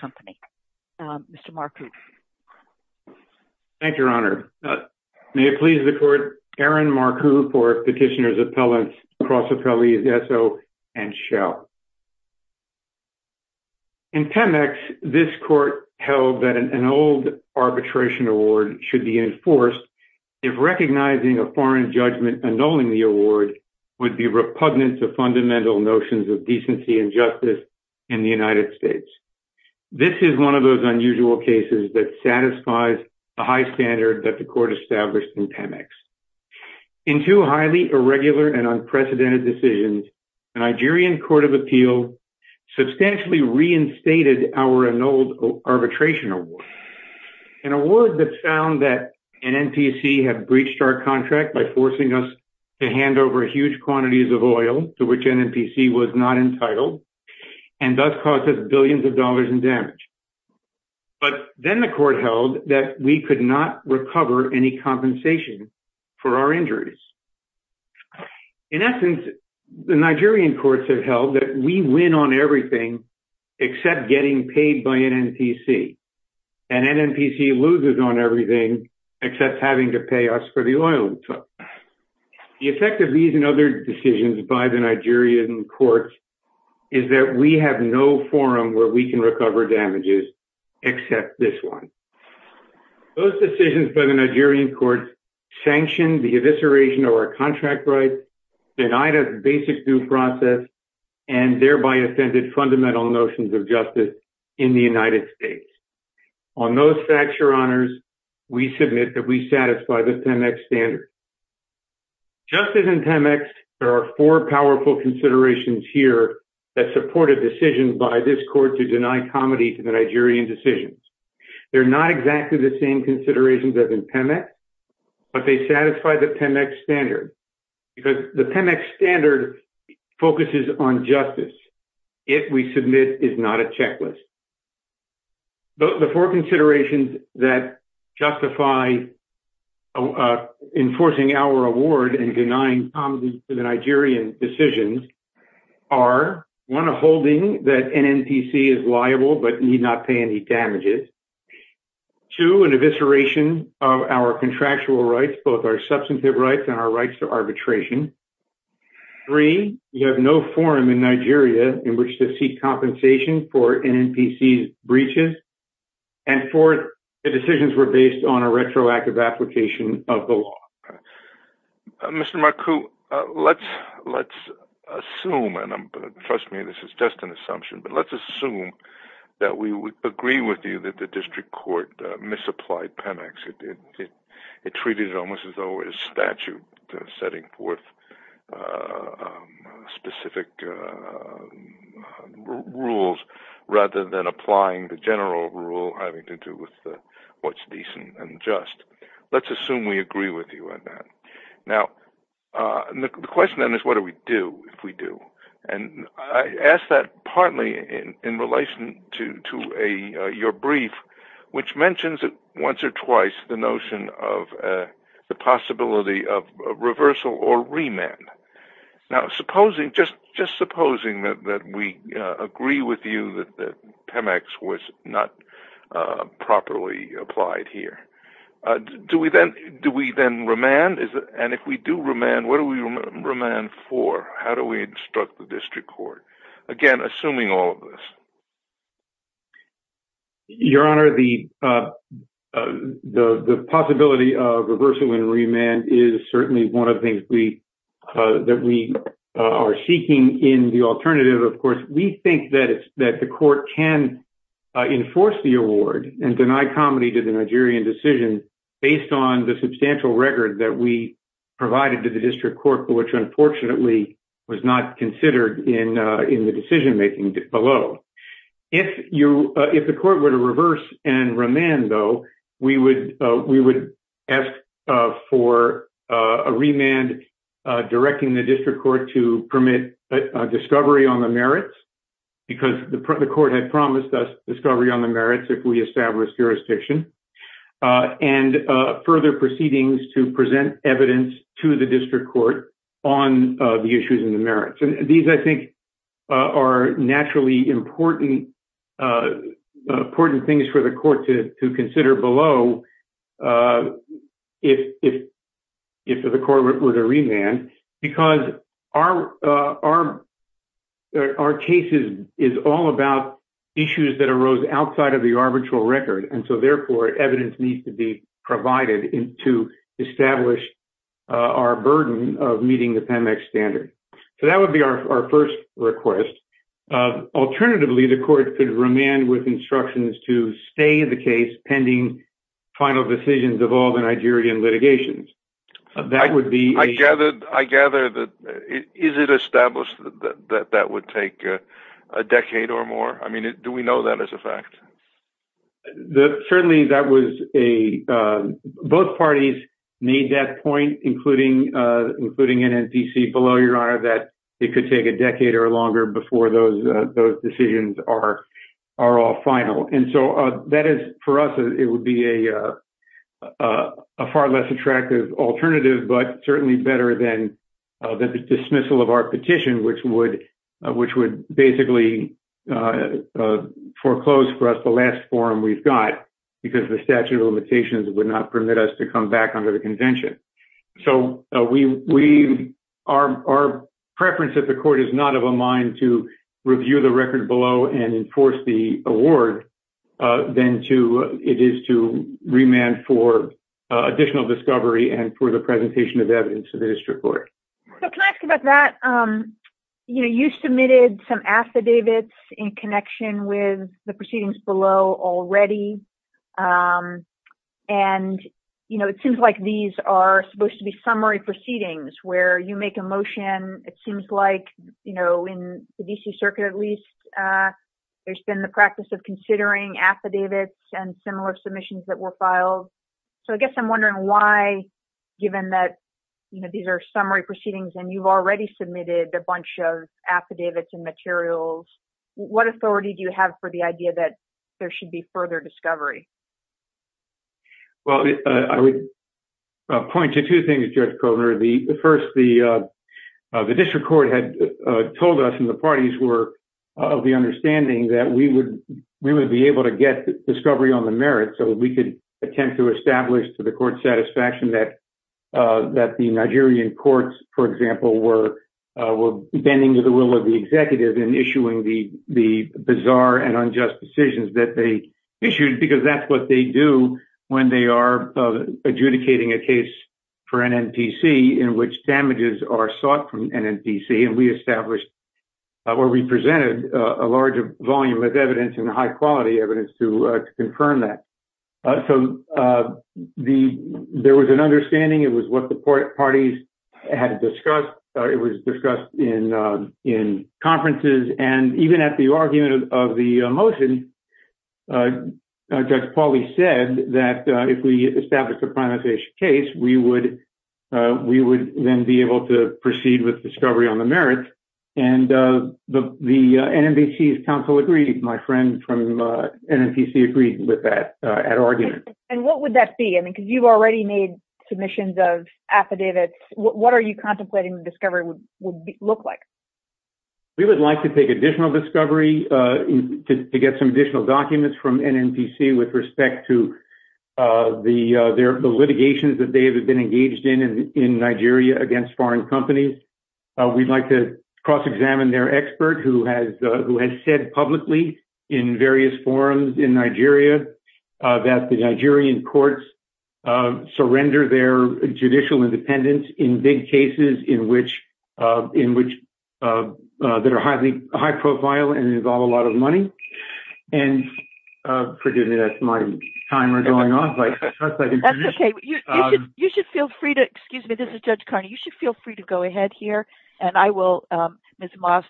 Company. Mr. Marku. Thank you, Your Honor. May it please the Court, Aaron Marku for Petitioners Appellants, Cross Appellees, Esso, and Shell. In Temex, this Court held that an old arbitration award should be enforced if recognizing a foreign judgment under the annulling the award would be repugnant to fundamental notions of decency and justice in the United States. This is one of those unusual cases that satisfies the high standard that the Court established in Temex. In two highly irregular and unprecedented decisions, the Nigerian Court of Appeals substantially reinstated our annulled arbitration award. An award that found that NNPC had breached our contract by forcing us to hand over huge quantities of oil to which NNPC was not entitled and thus cost us billions of dollars in damage. But then the Court held that we could not recover any compensation for our injuries. In essence, the Nigerian courts have held that we win on everything except getting paid by NNPC. And NNPC loses on everything except having to pay us for the oil we took. The effect of these and other decisions by the Nigerian courts is that we have no forum where we can recover damages except this one. Those decisions by the Nigerian courts sanctioned the evisceration of our contract rights, denied us a basic due process, and thereby offended fundamental notions of justice in the United States. On those facts, Your Honors, we submit that we satisfy the Temex standards. Justice in Temex, there are four powerful considerations here that support a decision by this court to deny comity to the Nigerian decisions. They're not exactly the same considerations as in Temex, but they satisfy the Temex standards. The Temex standard focuses on justice. It, we submit, is not a checklist. The four considerations that justify enforcing our award and denying comity to the Nigerian decisions are, one, a holding that NNPC is liable but need not pay any damages. Two, an evisceration of our contractual rights, both our substantive rights and our rights to arbitration. Three, we have no forum in Nigeria in which to seek compensation for NNPC breaches. And four, the decisions were based on a retroactive application of the law. Mr. Marcu, let's assume that we agree with you that the district court misapplied Temex. It treated it almost as though it was statute setting forth specific rules rather than applying the general rule having to do with what's decent and just. Let's assume we agree with you on that. Now, the question then is what do we do if we do? And I ask that partly in relation to your brief, which mentions once or twice the notion of the possibility of reversal or remand. Now, just supposing that we agree with you that Temex was not properly applied here. Do we then remand? And if we do remand, what do we remand for? How do we instruct the district court? Again, assuming all of this. Your Honor, the possibility of reversing remand is certainly one of the things that we are seeking in the alternative. Of course, we think that the court can enforce the award and deny comedy to the Nigerian decision based on the substantial record that we provided to the district court, which unfortunately was not considered in the decision making below. If the court were to reverse and remand, though, we would ask for a remand directing the district court to permit discovery on the merits because the court had promised us discovery on the merits if we established jurisdiction and further proceedings to present evidence to the district court on the issues and the merits. These, I think, are naturally important things for the court to consider below if the court were to remand because our case is all about issues that arose outside of the arbitral record, and so therefore evidence needs to be provided to establish our burden of meeting the Temex standard. That would be our first request. Alternatively, the court could remand with instructions to stay the case pending final decisions of all the Nigerian litigations. I gather that is it established that that would take a decade or more? I mean, do we know that as a fact? Certainly, both parties made that point, including NNPC below your honor, that it could take a decade or longer before those decisions are all final. That is, for us, it would be a far less attractive alternative, but certainly better than the dismissal of our petition, which would basically foreclose for us the last forum we've got because the statute of limitations would not permit us to come back under the convention. So our preference at the court is not of a mind to review the record below and enforce the award than it is to remand for additional discovery and for the presentation of evidence to the district court. Can I ask about that? You submitted some affidavits in connection with the proceedings below already, and it seems like these are supposed to be summary proceedings where you make a motion. It seems like in the D.C. circuit, at least, there's been the practice of considering affidavits and similar submissions that were filed. So I guess I'm wondering why, given that these are summary proceedings and you've already submitted a bunch of affidavits and materials, what authority do you have for the idea that there should be further discovery? Well, I would point to two things, Jeff Kohner. First, the district court had told us in the parties' work of the understanding that we would be able to get discovery on the merits so we could attempt to establish to the court's satisfaction that the Nigerian courts, for example, were bending to the will of the executive in issuing the bizarre and unjust decisions that they issued because that's what they do when they are adjudicating a case for an N.P.C. in which damages are sought from an N.P.C. And we established or we presented a larger volume of evidence and high-quality evidence to confirm that. So there was an understanding. It was what the parties had discussed. It was discussed in conferences. And even at the argument of the motion, Judge Pauly said that if we establish a penaltation case, we would then be able to proceed with discovery on the merits. And the N.N.P.C.'s counsel agreed. My friend from N.N.P.C. agreed with that at argument. And what would that be? I mean, because you've already made submissions of affidavits. What are you contemplating discovery would look like? We would like to take additional discovery to get some additional documents from N.N.P.C. with respect to the litigations that they have been engaged in in Nigeria against foreign companies. We'd like to cross-examine their expert who has said publicly in various forums in Nigeria that the Nigerian courts surrender their judicial independence in big cases in which they're highly high-profile and involve a lot of money. And that's my timer going on. That's OK. You should feel free to excuse me. This is Judge Carney. You should feel free to go ahead here. And I will, Ms. Moss,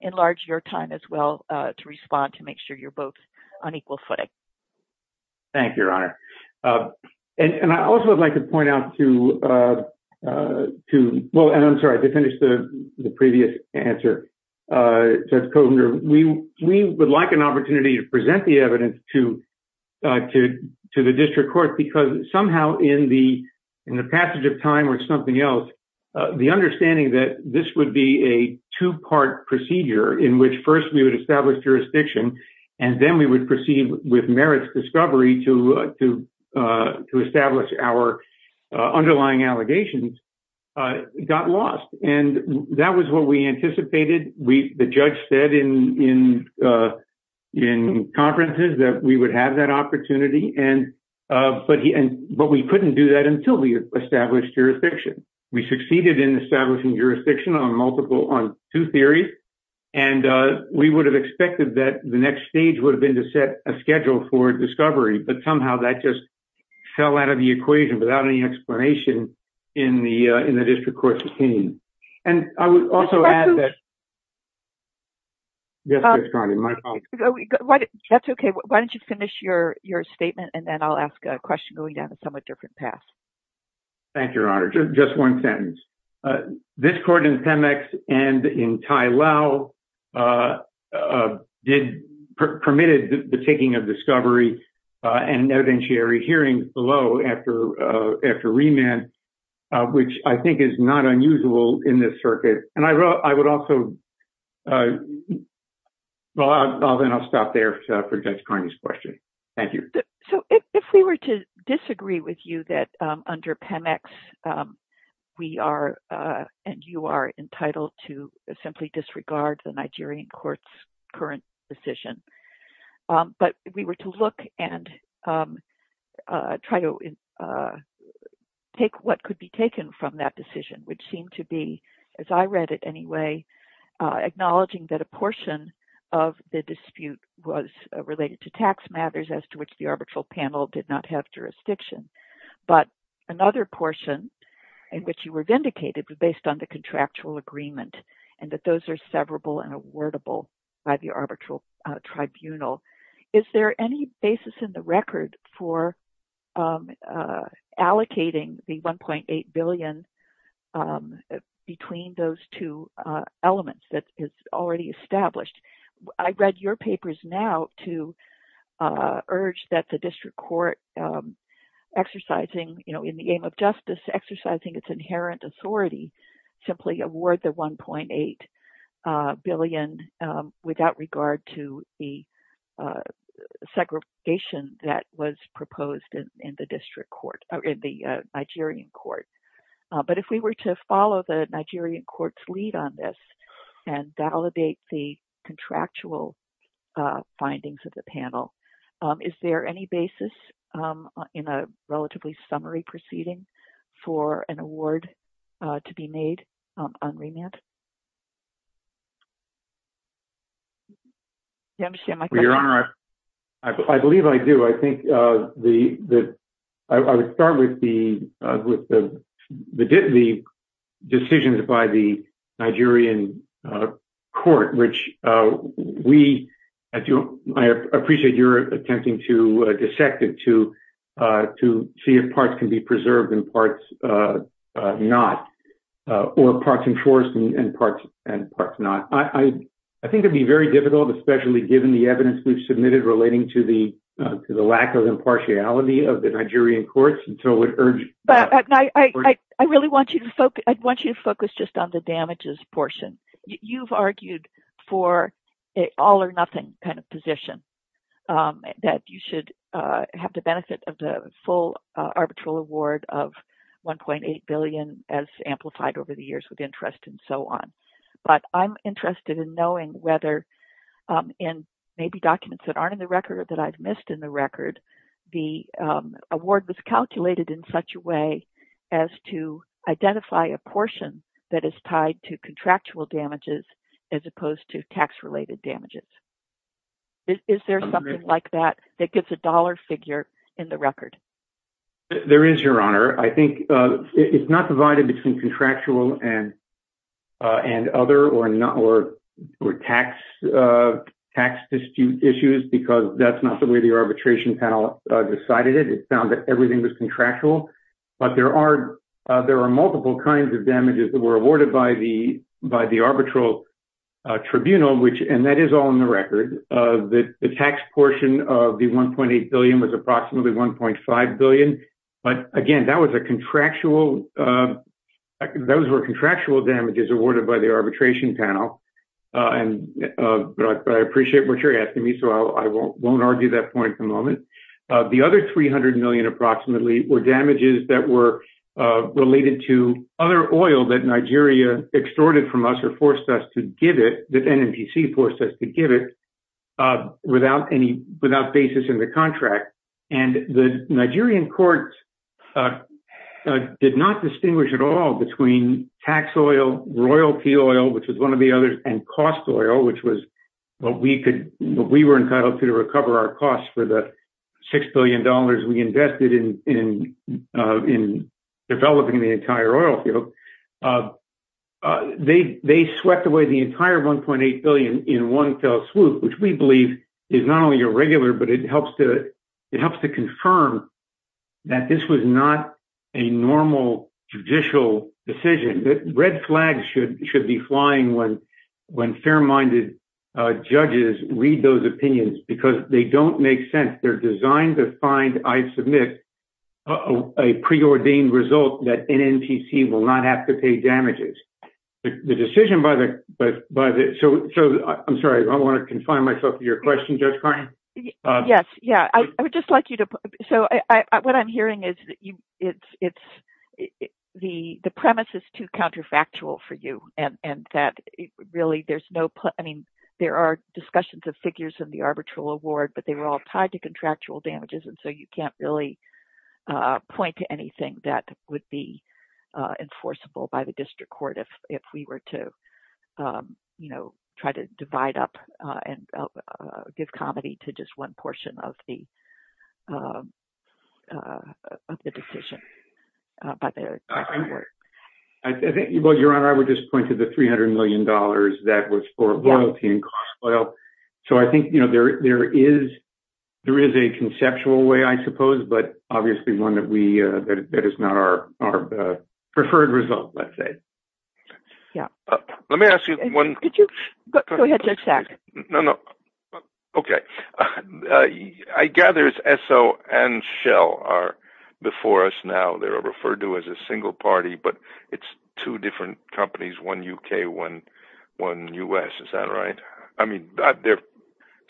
enlarge your time as well to respond to make sure you're both on equal footing. Thank you, Your Honor. And I also would like to point out to two. Well, I'm sorry to finish the previous answer. We would like an opportunity to present the evidence to to to the district court, because somehow in the in the passage of time with something else, the understanding that this would be a two part procedure in which first we would establish jurisdiction and then we would proceed with merits discovery to to to establish our underlying allegations got lost. And that was what we anticipated. We the judge said in in conferences that we would have that opportunity. But we couldn't do that until we established jurisdiction. We succeeded in establishing jurisdiction on multiple on two theories. And we would have expected that the next stage would have been to set a schedule for discovery. But somehow that just fell out of the equation without any explanation in the in the district court. And I would also add that. Yes. That's OK. Why don't you finish your your statement and then I'll ask a question going down a somewhat different path. Thank you, Your Honor. Just one sentence. This court in Pemex and in Ty Lowe did permitted the taking of discovery and notary hearing below after after remand, which I think is not unusual in this circuit. And I wrote I would also. Well, I'll then I'll stop there for this question. Thank you. So if we were to disagree with you that under Pemex, we are and you are entitled to simply disregard the Nigerian courts current decision. But we were to look and try to take what could be taken from that decision, which seemed to be, as I read it anyway, acknowledging that a portion of the dispute was related to tax matters as to which the arbitral panel did not have jurisdiction. But another portion in which you were vindicated was based on the contractual agreement and that those are severable and awardable by the arbitral tribunal. Is there any basis in the record for allocating the one point eight billion between those two elements that is already established? I read your papers now to urge that the district court exercising, you know, in the aim of justice, exercising its inherent authority, simply award the one point eight billion without regard to the segregation that was proposed in the district court in the Nigerian court. But if we were to follow the Nigerian court's lead on this and validate the contractual findings of the panel, is there any basis in a relatively summary proceeding for an award to be made on remand? I believe I do. I think the I would start with the with the decisions by the Nigerian court, which we, I appreciate your attempting to dissect it to to see if parts can be preserved and parts not. Or parts and parts and parts not. I think it'd be very difficult, especially given the evidence we've submitted relating to the to the lack of impartiality of the Nigerian courts. I really want you to focus. I want you to focus just on the damages portion. You've argued for all or nothing kind of position that you should have the benefit of the full arbitral award of one point eight billion as amplified over the years with interest and so on. But I'm interested in knowing whether in maybe documents that aren't in the record that I've missed in the record, the award was calculated in such a way as to identify a portion that is tied to contractual damages as opposed to tax related damages. Is there something like that that gives a dollar figure in the record? There is your honor. I think it's not divided between contractual and and other or not, or, or tax tax dispute issues because that's not the way the arbitration panel decided it. It's found that everything was contractual, but there are there are multiple kinds of damages that were awarded by the, by the arbitral tribunal, which and that is all in the record of the tax portion of the one point eight billion was approximately one point five. Five billion, but again, that was a contractual. Those were contractual damages awarded by the arbitration panel. And I appreciate what you're asking me, so I won't argue that point at the moment. The other three hundred million approximately were damages that were related to other oil that Nigeria extorted from us or forced us to give it. Forced us to give it without any without basis in the contract, and the Nigerian courts did not distinguish at all between tax oil royalty oil, which is one of the others and cost oil, which was what we could what we were entitled to recover our costs for the six billion dollars. We invested in in developing the entire oil. They swept away the entire one point eight billion in one fell swoop, which we believe is not only a regular, but it helps to it helps to confirm that this was not a normal judicial decision. Red flags should should be flying when when fair minded judges read those opinions because they don't make sense. They're designed to find I submit a preordained result that NNPC will not have to pay damages. The decision by the but but so I'm sorry, I don't want to confine myself to your question. Yes. Yeah, I would just like you to. So what I'm hearing is that you it's it's the the premise is too counterfactual for you and that really there's no. I mean, there are discussions of figures in the arbitral award, but they were all tied to contractual damages. And so you can't really point to anything that would be enforceable by the district court if if we were to, you know, try to divide up and give comedy to just one portion of the. I think it was around, I would just point to the 300 million dollars that was for loyalty and cost. Well, so I think, you know, there there is there is a conceptual way, I suppose, but obviously one that we that is not our preferred result, let's say. Yeah, let me ask you one. Could you go ahead? No, no. OK. I gather it's so and shell are before us now. They're referred to as a single party, but it's two different companies, one UK, one one US. Is that right? I mean, they're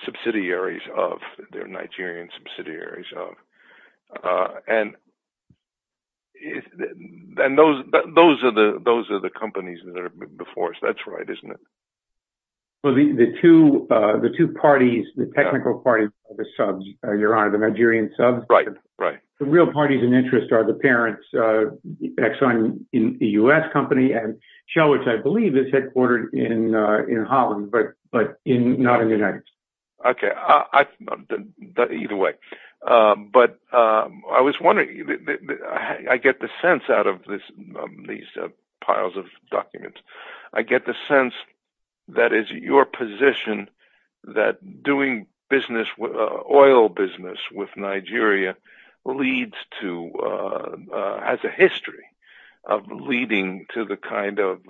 subsidiaries of their Nigerian subsidiaries. And. And those those are the those are the companies that are before us. That's right, isn't it? Well, the two the two parties, the technical parties, the subs, your honor, the Nigerian sub. Right. Right. The real parties in interest are the parents in the US company and shell, which I believe is headquartered in in Holland. But but in not in the United States. OK, either way. But I was wondering, I get the sense out of this these piles of documents. I get the sense that is your position that doing business with oil business with Nigeria leads to has a history of leading to the kind of.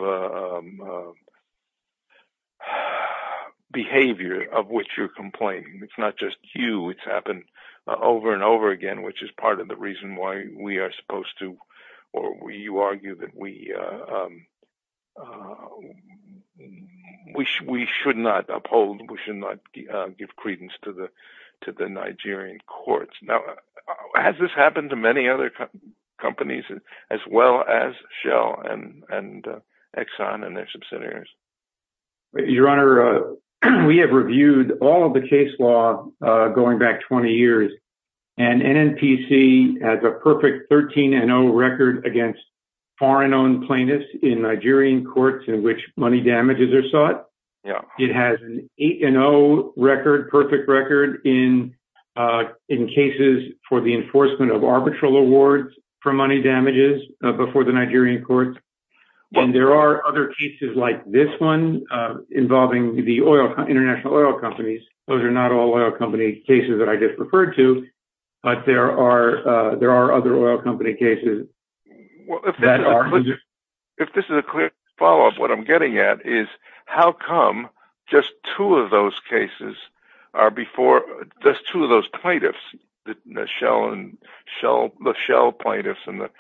Behavior of which you're complaining, it's not just you, it's happened over and over again, which is part of the reason why we are supposed to or we argue that we wish we should not uphold. We should not give credence to the to the Nigerian courts. Now, has this happened to many other companies as well as Shell and Exxon and their subsidiaries? Your honor, we have reviewed all of the case law going back 20 years. And NPC has a perfect 13 and no record against foreign owned plaintiffs in Nigerian courts in which money damages are sought. It has no record, perfect record in in cases for the enforcement of arbitral awards for money damages before the Nigerian courts. And there are other cases like this one involving the oil, international oil companies. Those are not all oil company cases that I just referred to. But there are there are other oil company cases that are. If this is a quick follow up, what I'm getting at is how come just two of those cases are before just two of those plaintiffs, the Shell and Shell, the Shell plaintiffs and the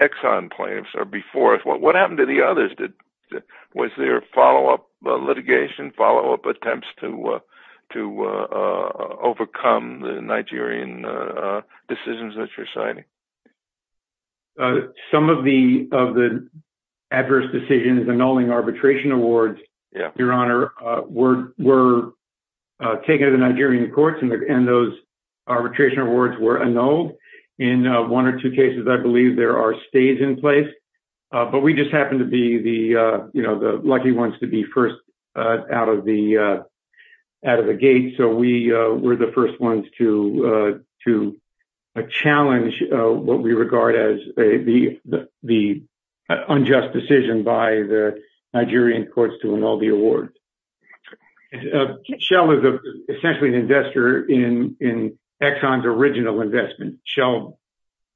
Exxon plaintiffs are before. What happened to the others? Was there a follow up litigation, follow up attempts to to overcome the Nigerian decisions that you're signing? Some of the of the adverse decisions annulling arbitration awards, your honor, were were taken to the Nigerian courts and those arbitration awards were annulled in one or two cases. I believe there are stays in place, but we just happen to be the lucky ones to be first out of the out of the gate. So we were the first ones to to challenge what we regard as the the unjust decision by the Nigerian courts to annul the award. Shell is essentially an investor in in Exxon's original investment. Shell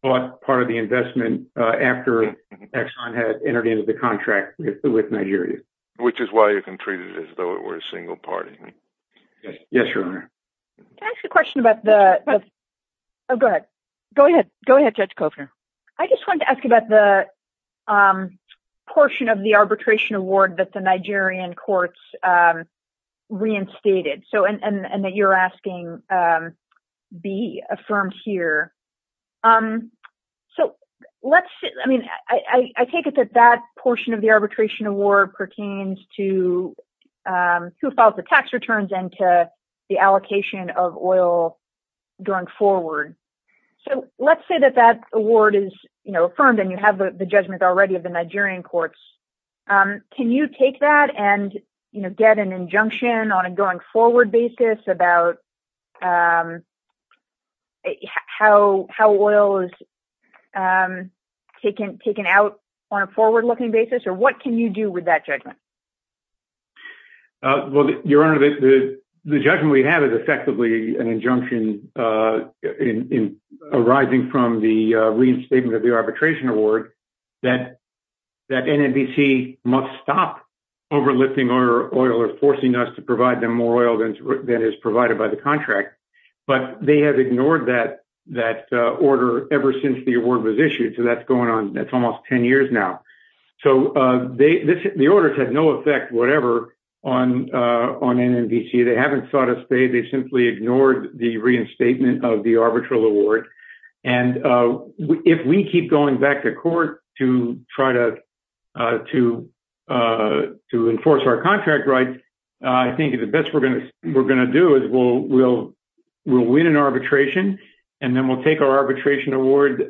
bought part of the investment after Exxon had entered into the contract with Nigeria, which is why you can treat it as though it were a single party. Yes, your honor. Can I ask a question about the. Oh, go ahead. Go ahead. Go ahead, Judge Kofner. I just want to ask about the portion of the arbitration award that the Nigerian courts reinstated. So and that you're asking be affirmed here. So let's I mean, I take it that that portion of the arbitration award pertains to who filed the tax returns and to the allocation of oil going forward. So let's say that that award is affirmed and you have the judgment already of the Nigerian courts. Can you take that and get an injunction on a going forward basis about how how oil is taken, taken out on a forward looking basis? Or what can you do with that judgment? Well, your honor, the judgment we have is effectively an injunction arising from the reinstatement of the arbitration award. That that NBC must stop overlifting or oil or forcing us to provide them more oil than that is provided by the contract. But they have ignored that that order ever since the award was issued. So that's going on. That's almost 10 years now. So they the orders have no effect whatever on on NBC. They haven't sought a state. They simply ignored the reinstatement of the arbitral award. And if we keep going back to court to try to to to enforce our contract. Right. I think the best we're going to we're going to do is we'll we'll we'll win an arbitration and then we'll take our arbitration award.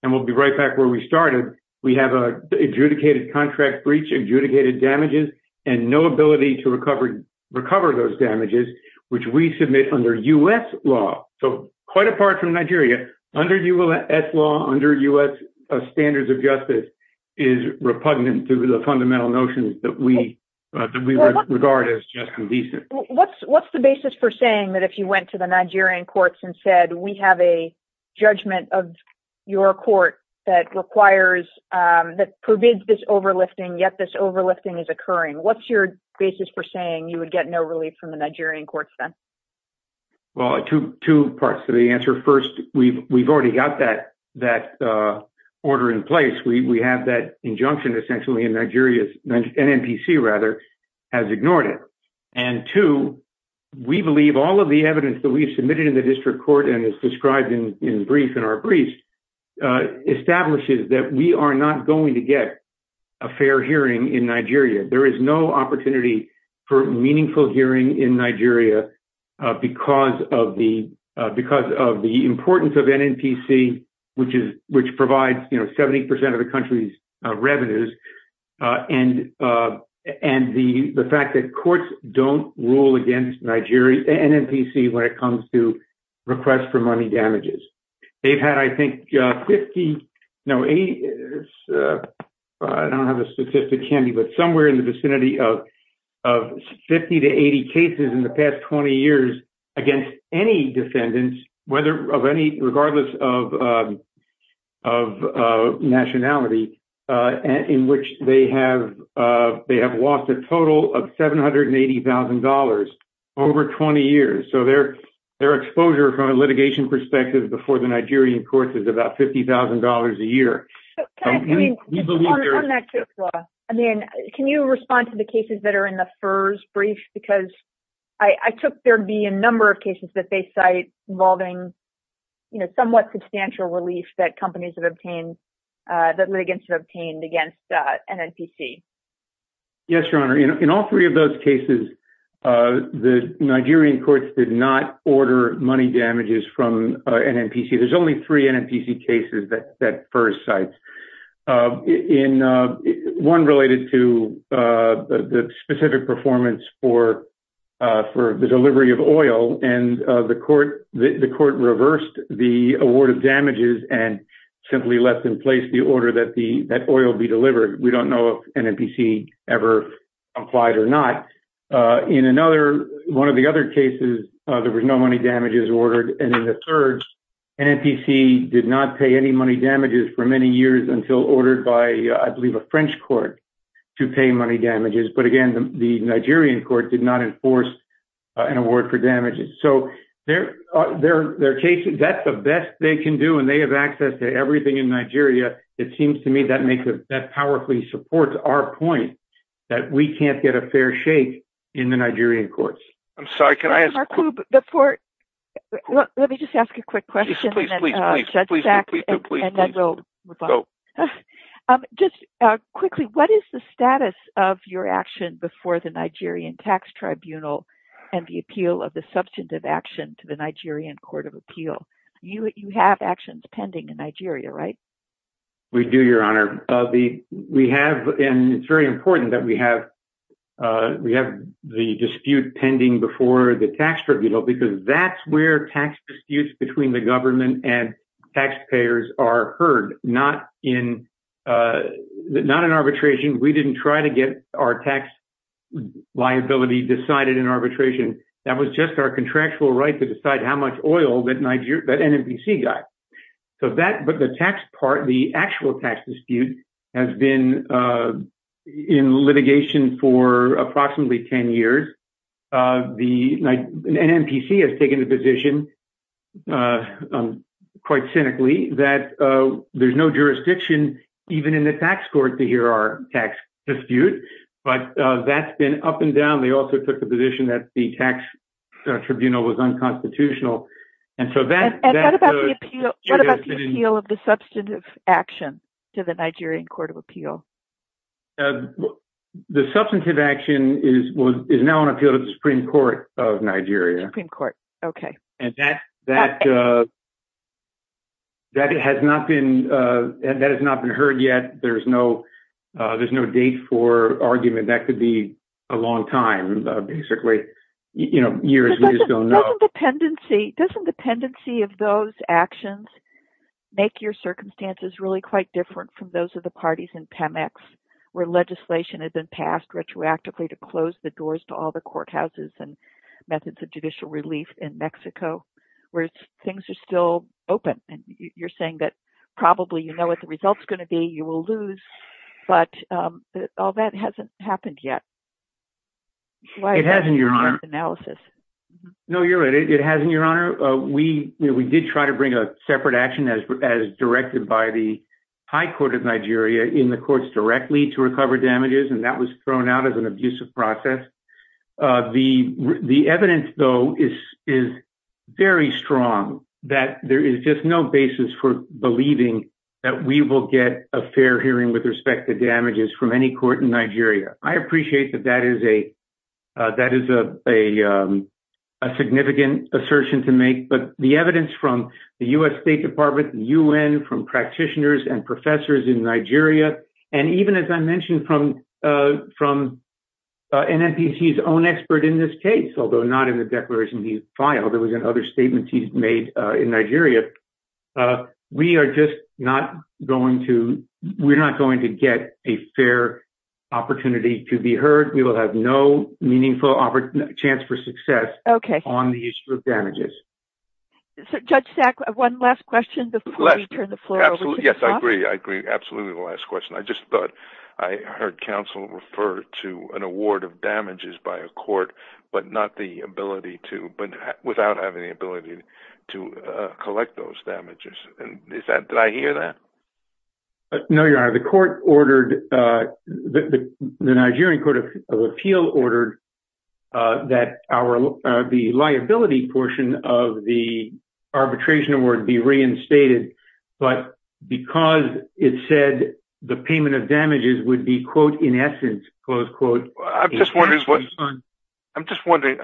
And we'll be right back where we started. We have adjudicated contract breach, adjudicated damages and no ability to recover, recover those damages, which we submit under U.S. law. So quite apart from Nigeria, under U.S. law, under U.S. standards of justice is repugnant to the fundamental notions that we regard as just and decent. What's what's the basis for saying that if you went to the Nigerian courts and said, we have a judgment of your court that requires that provides this overlifting, yet this overlifting is occurring? What's your basis for saying you would get no relief from the Nigerian courts? Well, two two parts to the answer. First, we've we've already got that that order in place. We have that injunction essentially in Nigeria's NNPC rather has ignored it. And two, we believe all of the evidence that we submitted in the district court and is described in brief in our briefs establishes that we are not going to get a fair hearing in Nigeria. There is no opportunity for meaningful hearing in Nigeria because of the because of the importance of NNPC, which is which provides 70 percent of the country's revenues. And and the fact that courts don't rule against Nigeria NNPC when it comes to requests for money damages. They've had, I think, 50. No, I don't have a specific candidate, but somewhere in the vicinity of of 50 to 80 cases in the past 20 years against any defendants, whether of any regardless of. Of nationality in which they have they have lost a total of seven hundred and eighty thousand dollars over 20 years. So their their exposure from a litigation perspective before the Nigerian court is about fifty thousand dollars a year. I mean, can you respond to the cases that are in the first brief? Because I took there'd be a number of cases that they cite involving somewhat substantial relief that companies have obtained that were obtained against NNPC. Yes, your honor. In all three of those cases, the Nigerian courts did not order money damages from NNPC. There's only three NNPC cases that that first site in one related to the specific performance for for the delivery of oil. And the court, the court reversed the award of damages and simply left in place the order that the oil be delivered. We don't know if NNPC ever applied or not. In another one of the other cases, there was no money damages ordered. And in the third, NNPC did not pay any money damages for many years until ordered by, I believe, a French court to pay money damages. But again, the Nigerian court did not enforce an award for damages. So there are cases that the best they can do and they have access to everything in Nigeria. It seems to me that makes it that powerfully supports our point that we can't get a fair shake in the Nigerian courts. I'm sorry. Can I ask before? Let me just ask a quick question. Just quickly, what is the status of your action before the Nigerian tax tribunal and the appeal of the substantive action to the Nigerian court of appeal? You have actions pending in Nigeria, right? We do, Your Honor. We have. And it's very important that we have we have the dispute pending before the tax tribunal, because that's where tax disputes between the government and taxpayers are heard, not in not an arbitration. We didn't try to get our tax liability decided in arbitration. That was just our contractual right to decide how much oil that NNPC got. So that the tax part, the actual tax dispute has been in litigation for approximately 10 years. The NNPC has taken the position quite cynically that there's no jurisdiction even in the tax court to hear our tax dispute. But that's been up and down. They also took the position that the tax tribunal was unconstitutional. And what about the appeal of the substantive action to the Nigerian court of appeal? The substantive action is now on appeal to the Supreme Court of Nigeria. Supreme Court. OK. And that has not been heard yet. There's no there's no date for argument. That could be a long time, basically, you know, years. Doesn't dependency of those actions make your circumstances really quite different from those of the parties in PEMEX, where legislation had been passed retroactively to close the doors to all the courthouses and methods of judicial relief in Mexico, where things are still open and you're saying that probably, you know what the result is going to be. You will lose. But all that hasn't happened yet. It hasn't, Your Honor. Analysis. No, you're right. It hasn't, Your Honor. We we did try to bring a separate action as as directed by the high court of Nigeria in the courts directly to recover damages. And that was thrown out as an abusive process. The the evidence, though, is is very strong that there is just no basis for believing that we will get a fair hearing with respect to damages from any court in Nigeria. I appreciate that. That is a that is a significant assertion to make. But the evidence from the U.S. State Department, the U.N., from practitioners and professors in Nigeria, and even, as I mentioned, from from an NPC, his own expert in this case, although not in the declaration he filed and other statements he's made in Nigeria. We are just not going to we're not going to get a fair opportunity to be heard. We will have no meaningful chance for success on the issue of damages. Judge Stack, one last question before you turn the floor over. Yes, I agree. I agree. Absolutely. The last question. I just thought I heard counsel refer to an award of damages by a court, but not the ability to but without having the ability to collect those damages. And is that that I hear that? No, you are. The court ordered the Nigerian Court of Appeal ordered that our the liability portion of the arbitration award be reinstated. But because it said the payment of damages would be, quote, in essence, close quote, I'm just wondering, I'm just wondering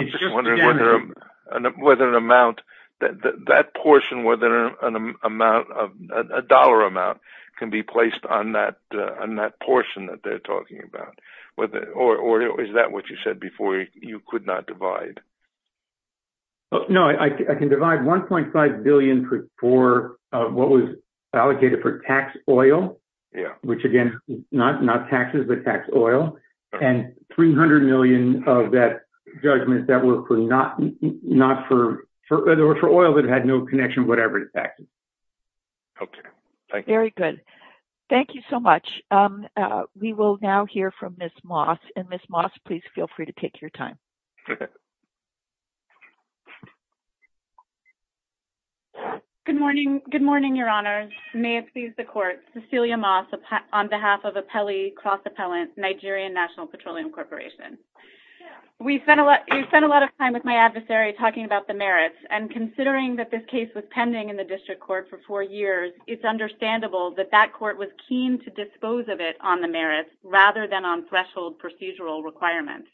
whether an amount that portion, whether an amount of a dollar amount can be placed on that, on that portion that they're talking about or is that what you said before? You could not divide. No, I can divide one point five billion for four of what was allocated for tax oil. Yeah. Which, again, not not taxes that tax oil and three hundred million of that judgment. That was for not not for whether or for oil that had no connection, whatever it is. OK, thank you. Very good. Thank you so much. We will now hear from Miss Moss and Miss Moss, please feel free to take your time. Good morning. Good morning, Your Honor. May it please the court. Cecilia Moss on behalf of the Pele Cross Appellant Nigerian National Petroleum Corporation. We spent a lot. We spent a lot of time with my adversary talking about the merits. And considering that this case was pending in the district court for four years, it's understandable that that court was keen to dispose of it on the merits rather than on threshold procedural requirements.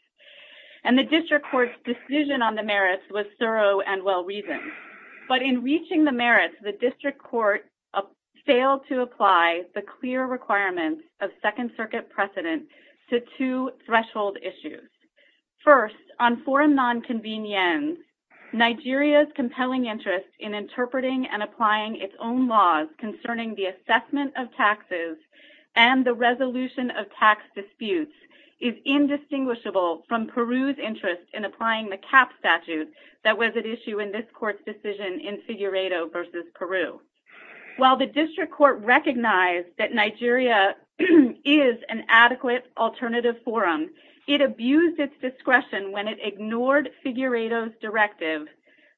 And the district court's decision on the merits was thorough and well-reasoned. But in reaching the merits, the district court failed to apply the clear requirements of Second Circuit precedent to two threshold issues. First, on foreign nonconvenience, Nigeria's compelling interest in interpreting and applying its own laws concerning the assessment of taxes and the resolution of tax disputes is indistinguishable from Peru's interest in applying the cap statute that was at issue in this court's decision in Figueredo v. Peru. While the district court recognized that Nigeria is an adequate alternative forum, it abused its discretion when it ignored Figueredo's directive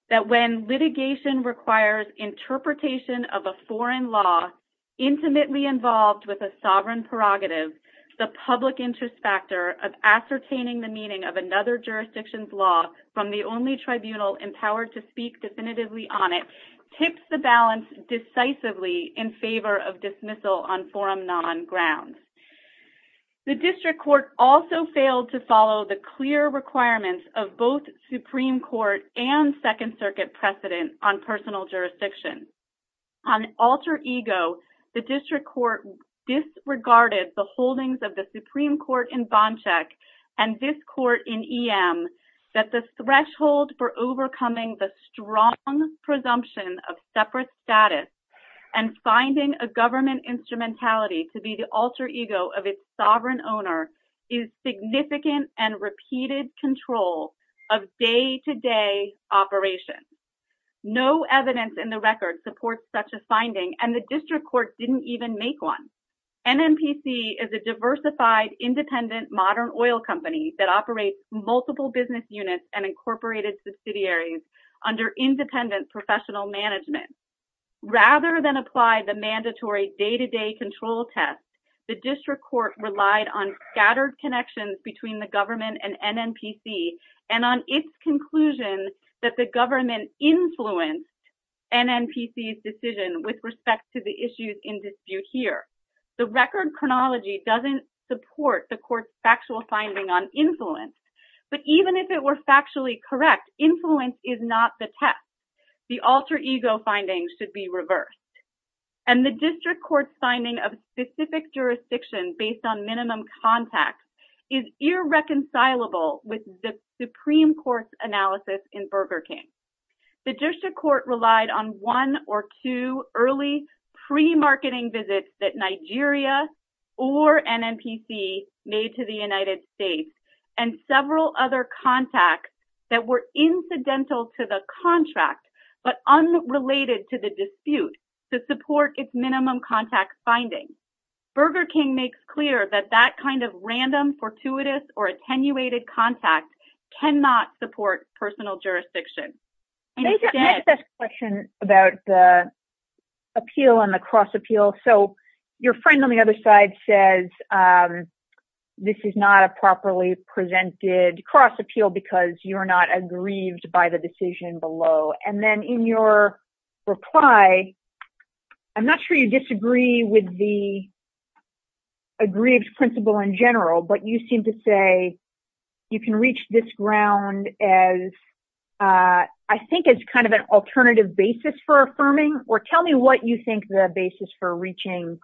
that when litigation requires interpretation of a foreign law intimately involved with a sovereign prerogative, the public interest factor of ascertaining the meaning of another jurisdiction's law from the only tribunal empowered to speak definitively on it tips the balance decisively in favor of dismissal on forum non grounds. The district court also failed to follow the clear requirements of both Supreme Court and Second Circuit precedent on personal jurisdiction. On alter ego, the district court disregarded the holdings of the Supreme Court in Bonchek and this court in EM that the threshold for overcoming the strong presumption of separate status and finding a government instrumentality to be the alter ego of its sovereign owner is significant and repeated control of day-to-day operations. No evidence in the record supports such a finding and the district court didn't even make one. MNPC is a diversified independent modern oil company that operates multiple business units and incorporated subsidiaries under independent professional management. Rather than apply the mandatory day-to-day control test, the district court relied on scattered connections between the government and MNPC and on its conclusions that the government influenced MNPC's decision with respect to the issues in dispute here. The record chronology doesn't support the court's factual finding on influence, but even if it were factually correct, influence is not the test. The alter ego findings should be reversed. And the district court's finding of specific jurisdiction based on minimum contacts is irreconcilable with the Supreme Court's analysis in Burger King. The district court relied on one or two early pre-marketing visits that Nigeria or MNPC made to the United States and several other contacts that were incidental to the contract but unrelated to the dispute to support its minimum contact findings. Burger King makes clear that that kind of random, fortuitous, or attenuated contact cannot support personal jurisdiction. Next question about the appeal and the cross appeal. So your friend on the other side says this is not a properly presented cross appeal because you're not aggrieved by the decision below. And then in your reply, I'm not sure you disagree with the aggrieved principle in general, but you seem to say you can reach this ground as I think it's kind of an alternative basis for affirming, or tell me what you think the basis for reaching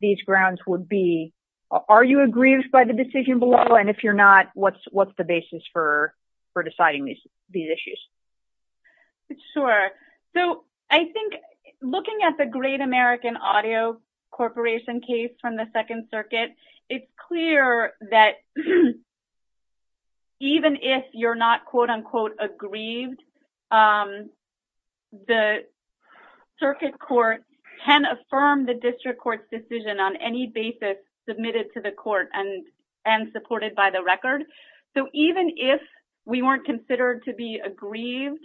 these grounds would be. Are you aggrieved by the decision below? And if you're not, what's the basis for deciding these issues? Sure. So I think looking at the Great American Audio Corporation case from the Second Circuit, it's clear that even if you're not quote unquote aggrieved, the circuit court can affirm the district court's decision on any basis submitted to the court and supported by the record. So even if we weren't considered to be aggrieved,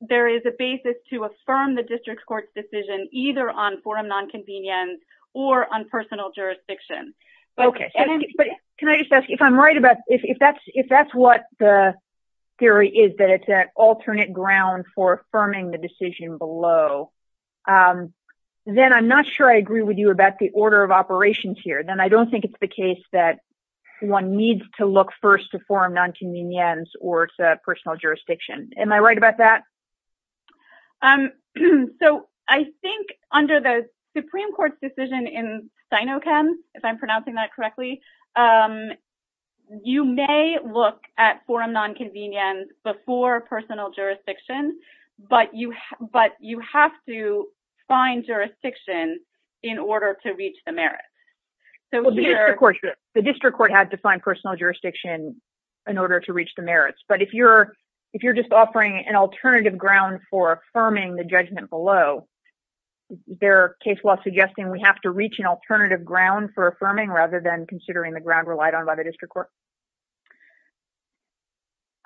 there is a basis to affirm the district court's decision either on forum nonconvenience or on personal jurisdiction. Okay. But can I just ask, if I'm right about, if that's what the theory is, that it's an alternate ground for affirming the decision below, then I'm not sure I agree with you about the order of operations here. Then I don't think it's the case that one needs to look first to forum nonconvenience or to personal jurisdiction. Am I right about that? So I think under the Supreme Court's decision in Sinochem, if I'm pronouncing that correctly, you may look at forum nonconvenience before personal jurisdiction, but you have to find jurisdiction in order to reach the merit. The district court had to find personal jurisdiction in order to reach the merits. But if you're just offering an alternative ground for affirming the judgment below, is there a case law suggesting we have to reach an alternative ground for affirming rather than considering the ground relied on by the district court?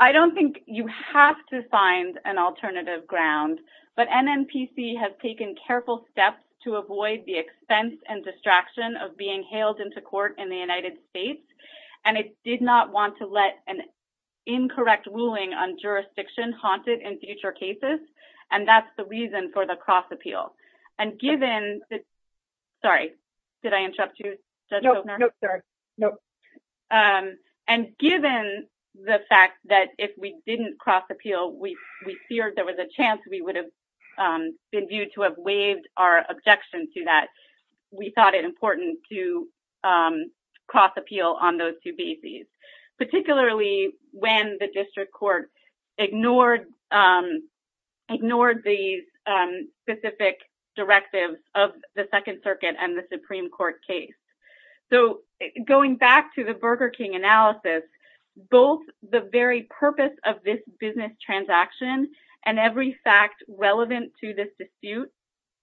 I don't think you have to find an alternative ground, but NNPC has taken careful steps to avoid the expense and distraction of being hailed into court in the United States, and it did not want to let an incorrect ruling on jurisdiction haunted in future cases, and that's the reason for the cross-appeal. Sorry, did I interrupt you? No, sorry. And given the fact that if we didn't cross-appeal, we feared there was a chance we would have been viewed to have waived our objection to that, we thought it important to cross-appeal on those two bases, particularly when the district court ignored these specific directives of the Second Circuit and the Supreme Court case. So going back to the Burger King analysis, both the very purpose of this business transaction and every fact relevant to this dispute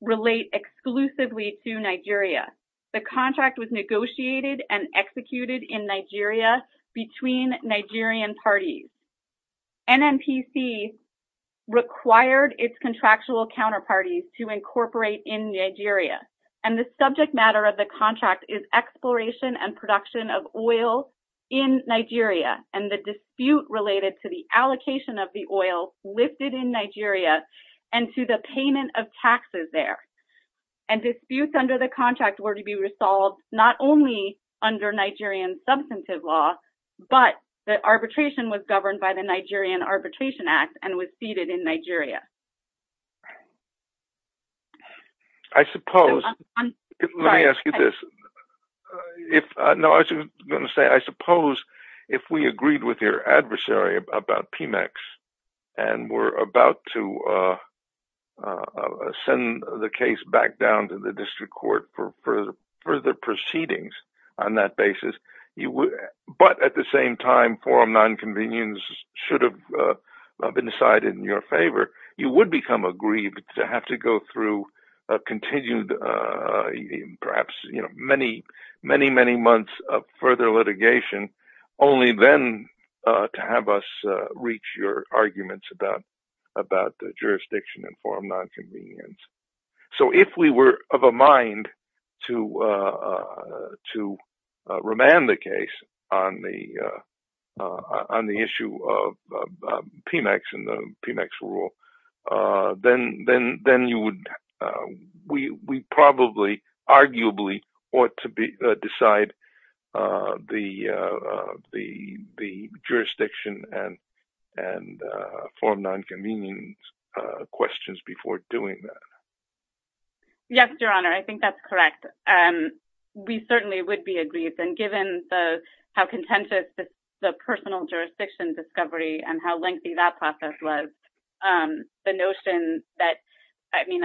relate exclusively to Nigeria. The contract was negotiated and executed in Nigeria between Nigerian parties. NNPC required its contractual counterparties to incorporate in Nigeria, and the subject matter of the contract is exploration and production of oil in Nigeria and the dispute related to the allocation of the oil listed in Nigeria and to the payment of taxes there. And disputes under the contract were to be resolved not only under Nigerian substantive law, but the arbitration was governed by the Nigerian Arbitration Act and was seated in Nigeria. I suppose, let me ask you this, I suppose if we agreed with your adversary about PMAX and were about to send the case back down to the district court for further proceedings on that basis, but at the same time form non-convenience should have been decided in your favor, you would become aggrieved to have to go through continued perhaps many, many months of further litigation only then to have us reach your arguments about the jurisdiction and form non-convenience. So if we were of a mind to remand the case on the issue of PMAX and the PMAX rule, then we probably arguably ought to decide the jurisdiction and form non-convenience questions before doing that. Yes, Your Honor, I think that's correct. We certainly would be aggrieved and given how contentious the personal jurisdiction discovery and how lengthy that process was, the notion that, I mean,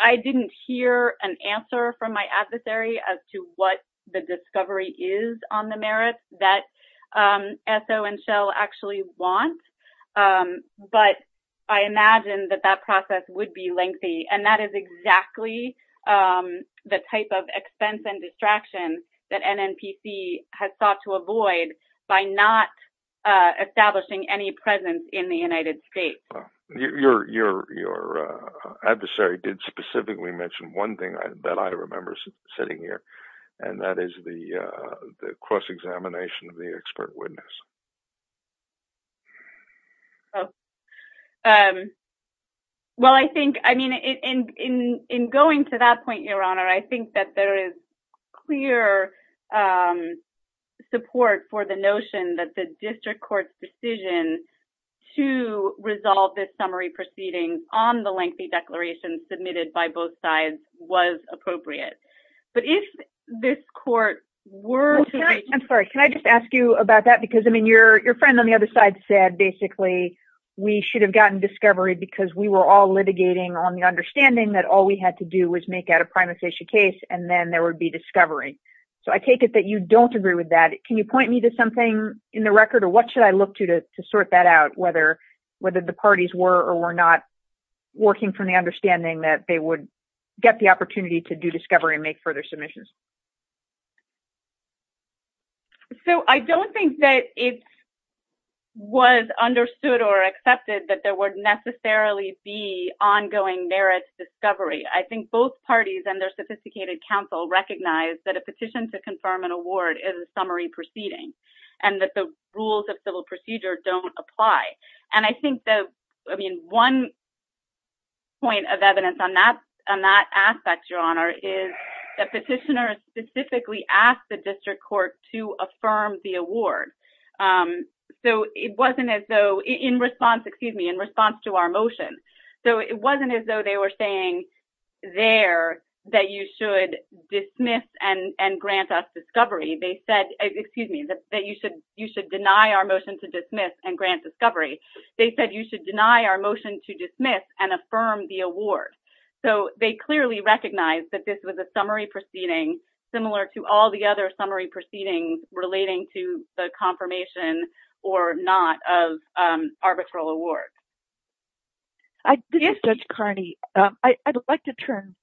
I didn't hear an answer from my adversary as to what the discovery is on the merits that Esso and Shell actually want. But I imagine that that process would be lengthy. And that is exactly the type of expense and distraction that NNPC has sought to avoid by not establishing any presence in the United States. Your adversary did specifically mention one thing that I remember sitting here, and that is the cross-examination of the expert witness. Well, I think, I mean, in going to that point, Your Honor, I think that there is clear support for the notion that the district court's decision to resolve this summary proceeding on the lengthy declaration submitted by both sides was appropriate. But if this court were to... I'm sorry, can I just ask you about that? Because, I mean, your friend on the other side said, basically, we should have gotten discovery because we were all litigating on the understanding that all we had to do was make that a primary session case, and then there would be discovery. So I take it that you don't agree with that. Can you point me to something in the record? Or what should I look to to sort that out, whether the parties were or were not working from the understanding that they would get the opportunity to do discovery and make further submissions? So I don't think that it was understood or accepted that there would necessarily be ongoing merits discovery. I think both parties and their sophisticated counsel recognize that a petition to confirm an award is a summary proceeding and that the rules of civil procedure don't apply. And I think that, I mean, one point of evidence on that aspect, Your Honor, is that petitioners specifically asked the district court to affirm the award. So it wasn't as though, in response, excuse me, in response to our motion. So it wasn't as though they were saying there that you should dismiss and grant us discovery. They said, excuse me, that you should deny our motion to dismiss and grant discovery. They said you should deny our motion to dismiss and affirm the award. So they clearly recognized that this was a summary proceeding, similar to all the other summary proceedings relating to the confirmation or not of arbitral awards. Yes, Judge Carney. I'd like to turn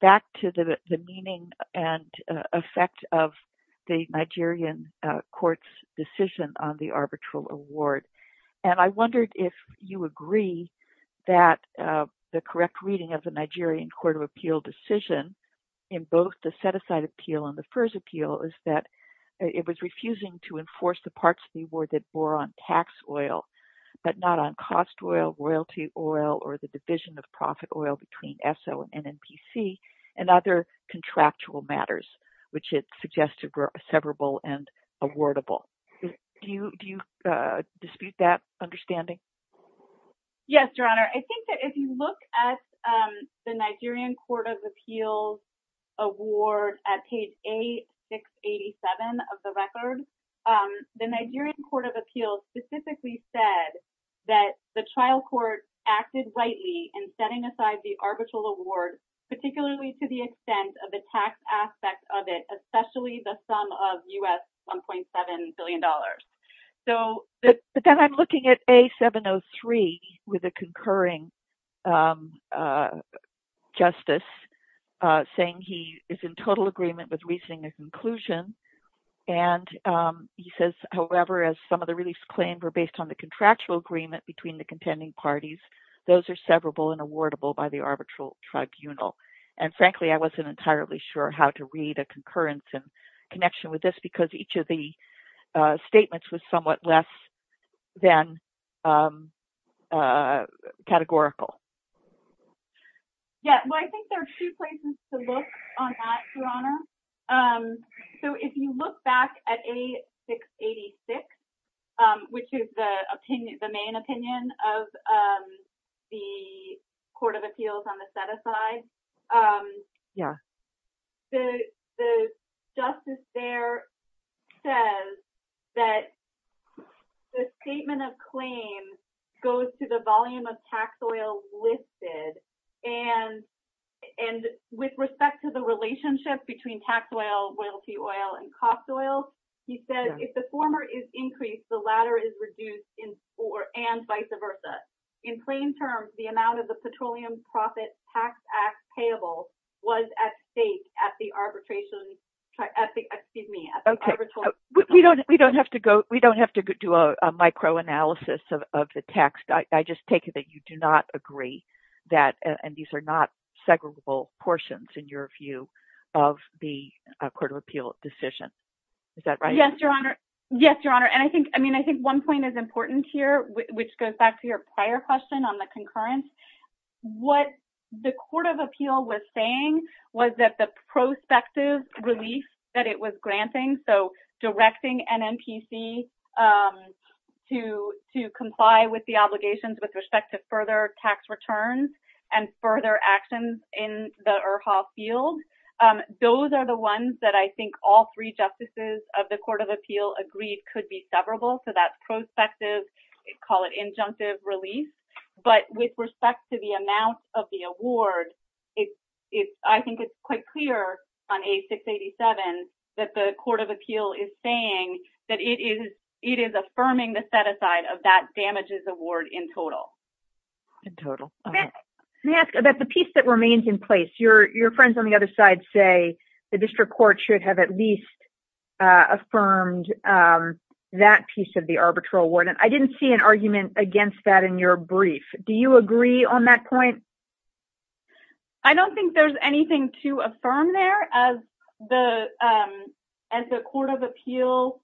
back to the meaning and effect of the Nigerian court's decision on the arbitral award. And I wondered if you agree that the correct reading of the Nigerian Court of Appeal decision in both the set-aside appeal and the FIRS appeal is that it was refusing to enforce the parts of the award that were on tax oil but not on cost oil, royalty oil, or the division of profit oil between ESO and NNPC and other contractual matters, which it suggested were severable and awardable. Do you dispute that understanding? Yes, Your Honor. I think that if you look at the Nigerian Court of Appeals award at page A687 of the record, the Nigerian Court of Appeals specifically said that the trial court acted rightly in setting aside the arbitral award, particularly to the extent of the tax aspect of it, especially the sum of U.S. $1.7 billion. But then I'm looking at A703 with a concurring justice saying he is in total agreement with reasoning as inclusion. And he says, however, as some of the reliefs claimed were based on the contractual agreement between the contending parties, those are severable and awardable by the arbitral tribunal. And frankly, I wasn't entirely sure how to read a concurrence in connection with this because each of the statements was somewhat less than categorical. Yeah, well, I think there are two places to look on that, Your Honor. So if you look back at A686, which is the main opinion of the Court of Appeals on the set-aside, the justice there says that the statement of claim goes to the volume of taxed oil listed. And with respect to the relationship between taxed oil, royalty oil, and cost oil, he said, if the former is increased, the latter is reduced and vice versa. In plain terms, the amount of the Petroleum Profit Tax Act payable was at stake at the arbitral tribunal. We don't have to do a micro-analysis of the text. I just take it that you do not agree that these are not severable portions, in your view, of the Court of Appeals decision. Is that right? Yes, Your Honor. Yes, Your Honor. And I think one point is important here, which goes back to your prior question on the concurrence. What the Court of Appeals was saying was that the prospective relief that it was granting, so directing NMPC to comply with the obligations with respect to further tax returns and further actions in the IRHA field, those are the ones that I think all three justices of the Court of Appeals agreed could be severable. So that prospective, call it injunctive, relief. But with respect to the amount of the award, I think it's quite clear on A687 that the Court of Appeals is saying that it is affirming the set-aside of that damages award in total. In total. Let me ask about the piece that remains in place. Your friends on the other side say the district court should have at least affirmed that piece of the arbitral award, and I didn't see an argument against that in your brief. Do you agree on that point? I don't think there's anything to affirm there as the Court of Appeals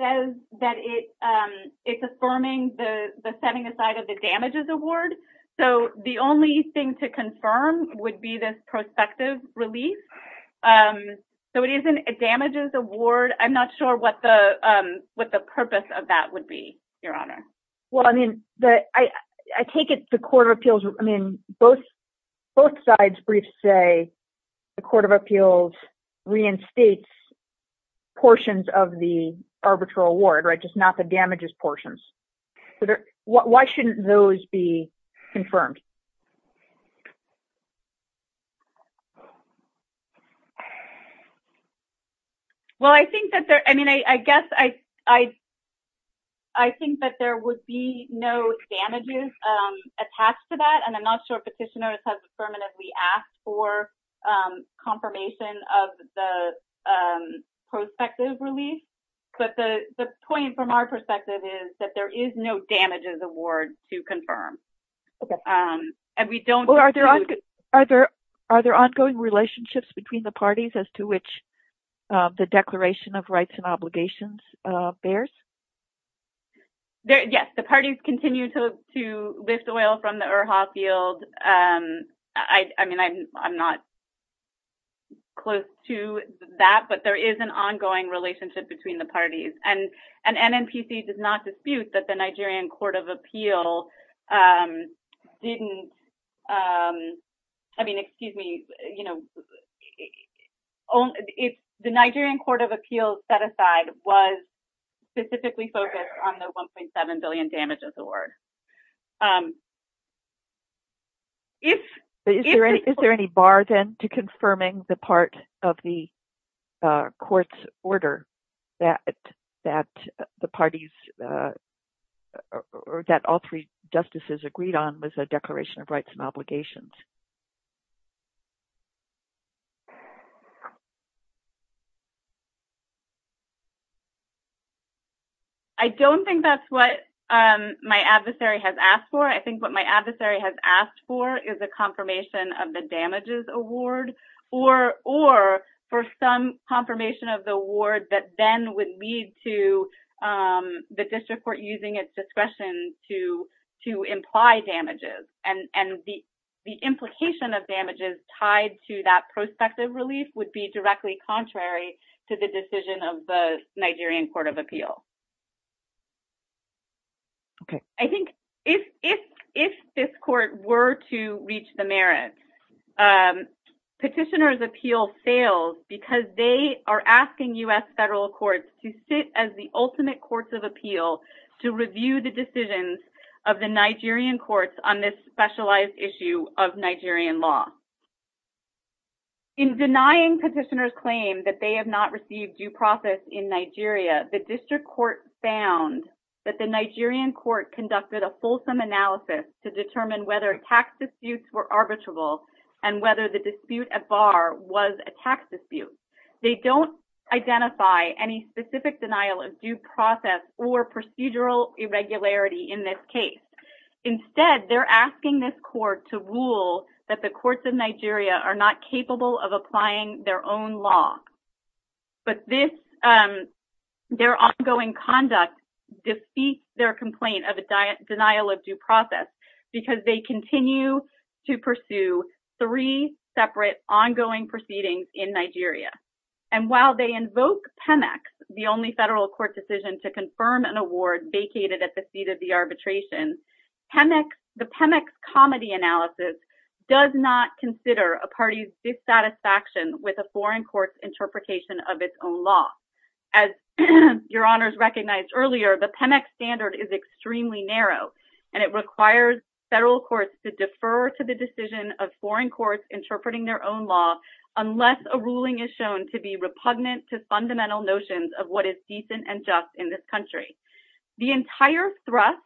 says that it's affirming the setting-aside of the damages award. So the only thing to confirm would be this prospective relief. So it isn't a damages award. I'm not sure what the purpose of that would be, Your Honor. Well, I mean, I take it the Court of Appeals, I mean, both sides' briefs say the Court of Appeals reinstates portions of the arbitral award, just not the damages portions. Why shouldn't those be confirmed? Well, I think that there, I mean, I guess I think that there would be no damages attached to that, and I'm not sure Petitioner has permanently asked for confirmation of the prospective relief, but the point from our perspective is that there is no damages award to confirm. Are there ongoing relationships between the parties as to which the Declaration of Rights and Obligations bears? Yes, the parties continue to withdraw from the URHA field. I mean, I'm not close to that, but there is an ongoing relationship between the parties, and NNPC does not dispute that the Nigerian Court of Appeals didn't, I mean, excuse me, the Nigerian Court of Appeals set aside was specifically focused on the $1.7 billion damages award. Is there any bar, then, to confirming the part of the court's order that the parties, or that all three justices agreed on was the Declaration of Rights and Obligations? I don't think that's what my adversary has asked for. I think what my adversary has asked for is a confirmation of the damages award, or for some confirmation of the award that then would lead to the district court using its discretion to imply damages, and the implication of damages tied to that prospective relief would be directly contrary to the decision of the Nigerian Court of Appeals. I think if this court were to reach the merits, Petitioner's Appeal fails because they are asking U.S. federal courts to sit as the ultimate courts of appeal to review the decisions of the Nigerian courts on this specialized issue of Nigerian law. In denying Petitioner's Claim that they have not received due process in Nigeria, the district court found that the Nigerian court conducted a fulsome analysis to determine whether tax disputes were arbitrable, and whether the dispute at bar was a tax dispute. They don't identify any specific denial of due process or procedural irregularity in this case. Instead, they're asking this court to rule that the courts of Nigeria are not capable of applying their own law. But their ongoing conduct defeats their complaint of a denial of due process because they continue to pursue three separate ongoing proceedings in Nigeria. And while they invoke PEMEX, the only federal court decision to confirm an award vacated at the seat of the arbitration, the PEMEX comedy analysis does not consider a party's dissatisfaction with a foreign court's interpretation of its own law. As your honors recognized earlier, the PEMEX standard is extremely narrow, and it requires federal courts to defer to the decision of foreign courts interpreting their own law unless a ruling is shown to be repugnant to fundamental notions of what is decent and just in this country. The entire thrust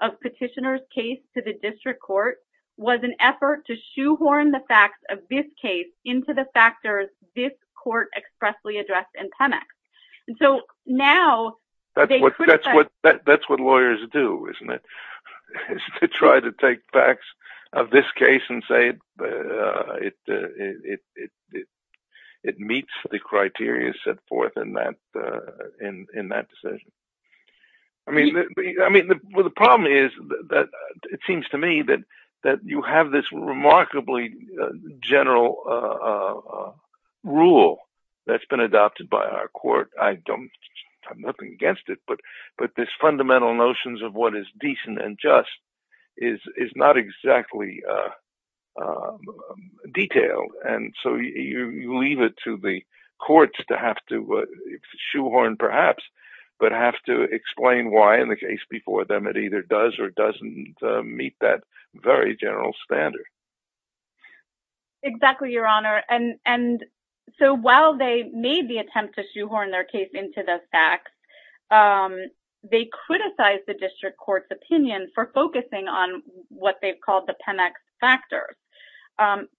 of Petitioner's case to the district court was an effort to shoehorn the facts of this case into the factors this court expressly addressed in PEMEX. That's what lawyers do, isn't it? They try to take facts of this case and say it meets the criteria set forth in that decision. The problem is that it seems to me that you have this remarkably general rule that's been adopted by our court. I have nothing against it, but this fundamental notions of what is decent and just is not exactly detailed. You leave it to the courts to have to shoehorn perhaps, but have to explain why in the case before them it either does or doesn't meet that very general standard. Exactly, your honor. While they made the attempt to shoehorn their case into the facts, they criticized the district court's opinion for focusing on what they've called the PEMEX factors.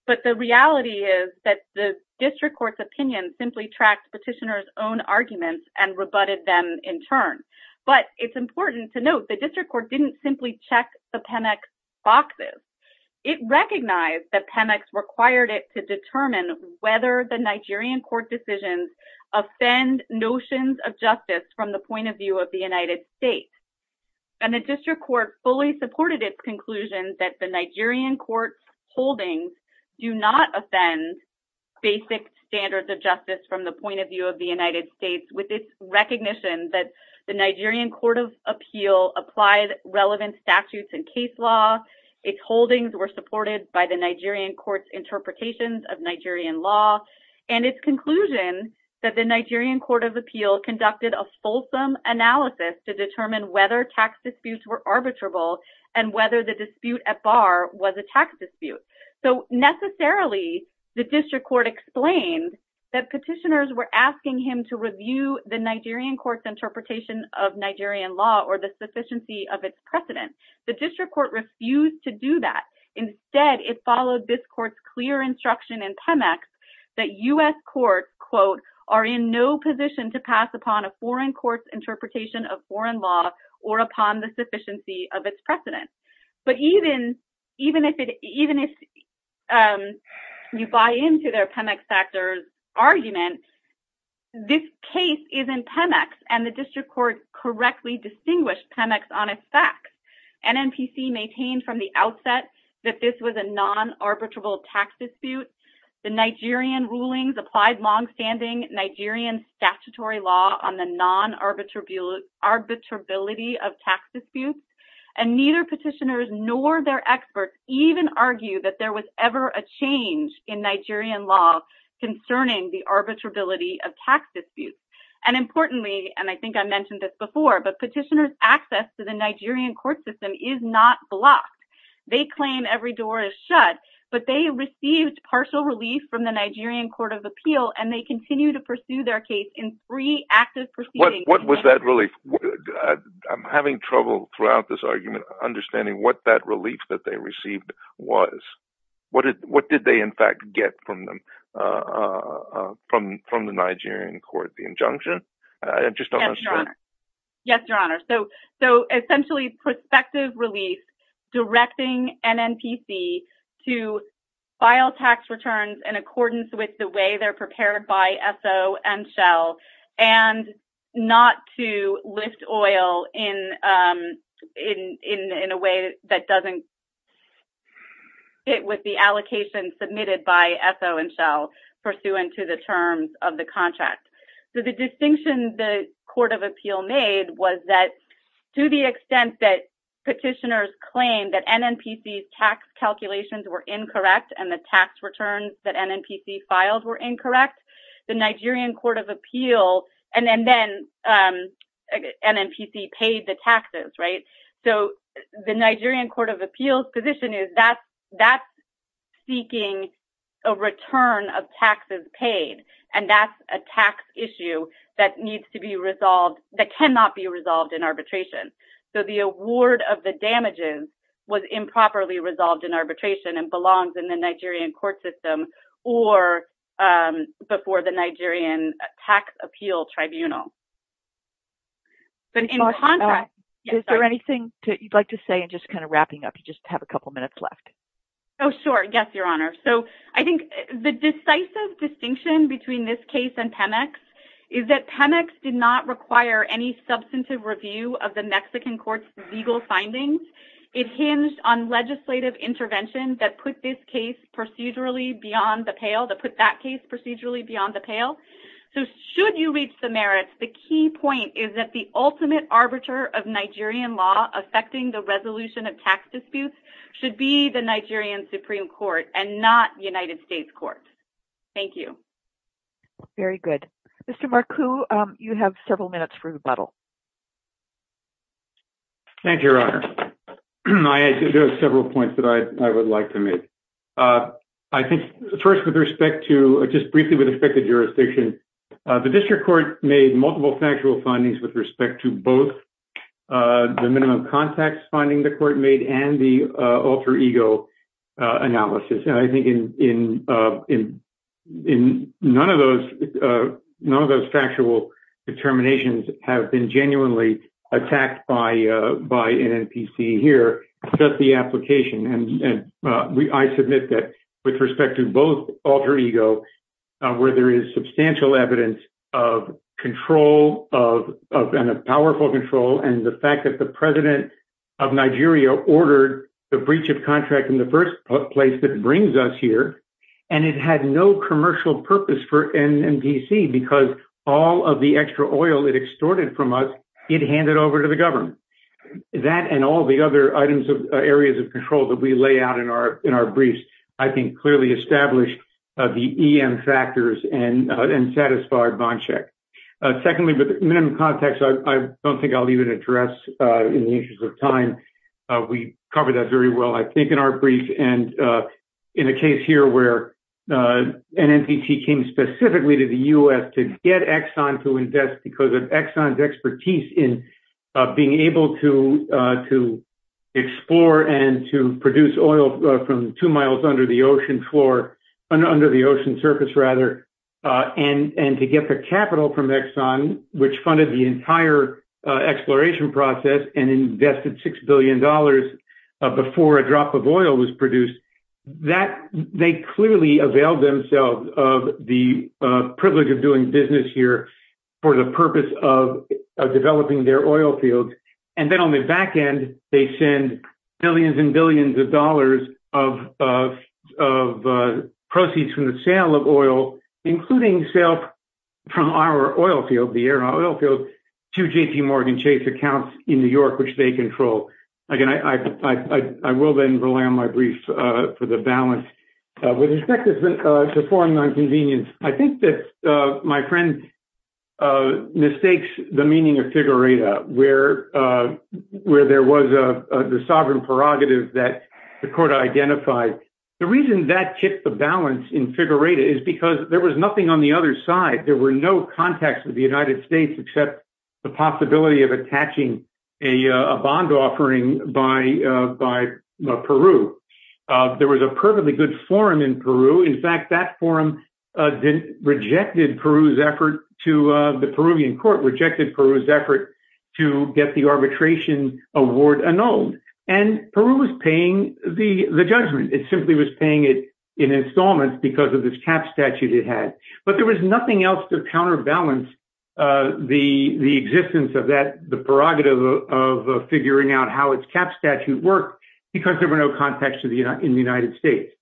But the reality is that the district court's opinion simply tracks Petitioner's own arguments and rebutted them in turn. But it's important to note the district court didn't simply check the PEMEX boxes. It recognized that PEMEX required it to determine whether the Nigerian court decisions offend notions of justice from the point of view of the United States. The district court fully supported its conclusion that the Nigerian court holdings do not offend basic standards of justice from the point of view of the United States with its recognition that the Nigerian Court of Appeal applied relevant statutes and case law. Its holdings were supported by the Nigerian court's interpretations of Nigerian law. And its conclusion that the Nigerian Court of Appeal conducted a fulsome analysis to determine whether tax disputes were arbitrable and whether the dispute at bar was a tax dispute. So necessarily, the district court explained that petitioners were asking him to review the Nigerian court's interpretation of Nigerian law or the sufficiency of its precedent. The district court refused to do that. Instead, it followed this court's clear instruction in PEMEX that U.S. courts, quote, are in no position to pass upon a foreign court's interpretation of foreign law or upon the sufficiency of its precedent. But even if you buy into their PEMEX factors argument, this case is in PEMEX and the district court correctly distinguished PEMEX on its facts. NNPC maintained from the outset that this was a non-arbitrable tax dispute. The Nigerian rulings applied longstanding Nigerian statutory law on the non-arbitrability of tax disputes. And neither petitioners nor their experts even argue that there was ever a change in Nigerian law concerning the arbitrability of tax disputes. And importantly, and I think I mentioned this before, but petitioners' access to the Nigerian court system is not blocked. They claim every door is shut, but they received partial relief from the Nigerian court of appeal and they continue to pursue their case in free access proceedings. What was that relief? I'm having trouble throughout this argument understanding what that relief that they received was. What did they in fact get from the Nigerian court? The injunction? Yes, Your Honor. So essentially, prospective relief directing NNPC to file tax returns in accordance with the way they're prepared by SO and SHEL and not to lift oil in a way that doesn't fit with the allocation submitted by SO and SHEL pursuant to the terms of the contract. The distinction the court of appeal made was that to the extent that petitioners claimed that NNPC's tax calculations were incorrect and the tax returns that NNPC filed were incorrect, the Nigerian court of appeal and then NNPC paid the taxes, right? So the Nigerian court of appeals position is that's seeking a return of taxes paid and that's a tax issue that needs to be resolved, that cannot be resolved in arbitration. So the award of the damages was improperly resolved in arbitration and belongs in the Nigerian court system or before the Nigerian tax appeal tribunal. Is there anything you'd like to say just kind of wrapping up? You just have a couple minutes left. Oh, sure. Yes, Your Honor. So I think the decisive distinction between this case and PEMEX is that PEMEX did not require any substantive review of the Mexican court's legal findings. It hinged on legislative intervention that put this case procedurally beyond the pale, that put that case procedurally beyond the pale. So should you reach the merits, the key point is that the ultimate arbiter of Nigerian law affecting the resolution of tax disputes should be the Nigerian Supreme Court and not United States court. Thank you. Very good. Mr. Marcu, you have several minutes for rebuttal. Thank you, Your Honor. There are several points that I would like to make. I think first with respect to just briefly with respect to jurisdiction, the district court made multiple factual findings with respect to both the minimum contacts finding the court made and the alter ego analysis. And I think in none of those factual determinations have been genuinely attacked by NNPC here, just the application. I submit that with respect to both alter ego where there is substantial evidence of control of powerful control and the fact that the president of Nigeria ordered the breach of contract in the first place that brings us here. And it had no commercial purpose for NNPC because all of the extra oil it extorted from us, it handed over to the government. That and all the other items of areas of control that we lay out in our briefs, I think clearly established the EM factors and satisfied bond check. Secondly, the minimum contacts, I don't think I'll even address in the interest of time. We covered that very well, I think, in our brief. And in a case here where NNPC came specifically to the U.S. to get Exxon to invest because of Exxon's expertise in being able to explore and to produce oil from two miles under the ocean floor, under the ocean surface rather. And to get the capital from Exxon, which funded the entire exploration process and invested $6 billion before a drop of oil was produced. They clearly availed themselves of the privilege of doing business here for the purpose of developing their oil field. And then on the back end, they send billions and billions of dollars of proceeds for the sale of oil, including sales from our oil field, the air and oil field, to JPMorgan Chase accounts in New York, which they control. Again, I will then rely on my brief for the balance. With respect to foreign nonconvenience, I think that my friend mistakes the meaning of figurative where there was a sovereign prerogative that the court identified. The reason that kept the balance in figurative is because there was nothing on the other side. There were no contacts with the United States except the possibility of attaching a bond offering by Peru. There was a perfectly good forum in Peru. In fact, that forum rejected Peru's effort to – the Peruvian court rejected Peru's effort to get the arbitration award annulled. And Peru was paying the judgment. It simply was paying it in installments because of its cap statute it had. But there was nothing else to counterbalance the existence of that – the prerogative of figuring out how its cap statute worked because there were no contacts in the United States.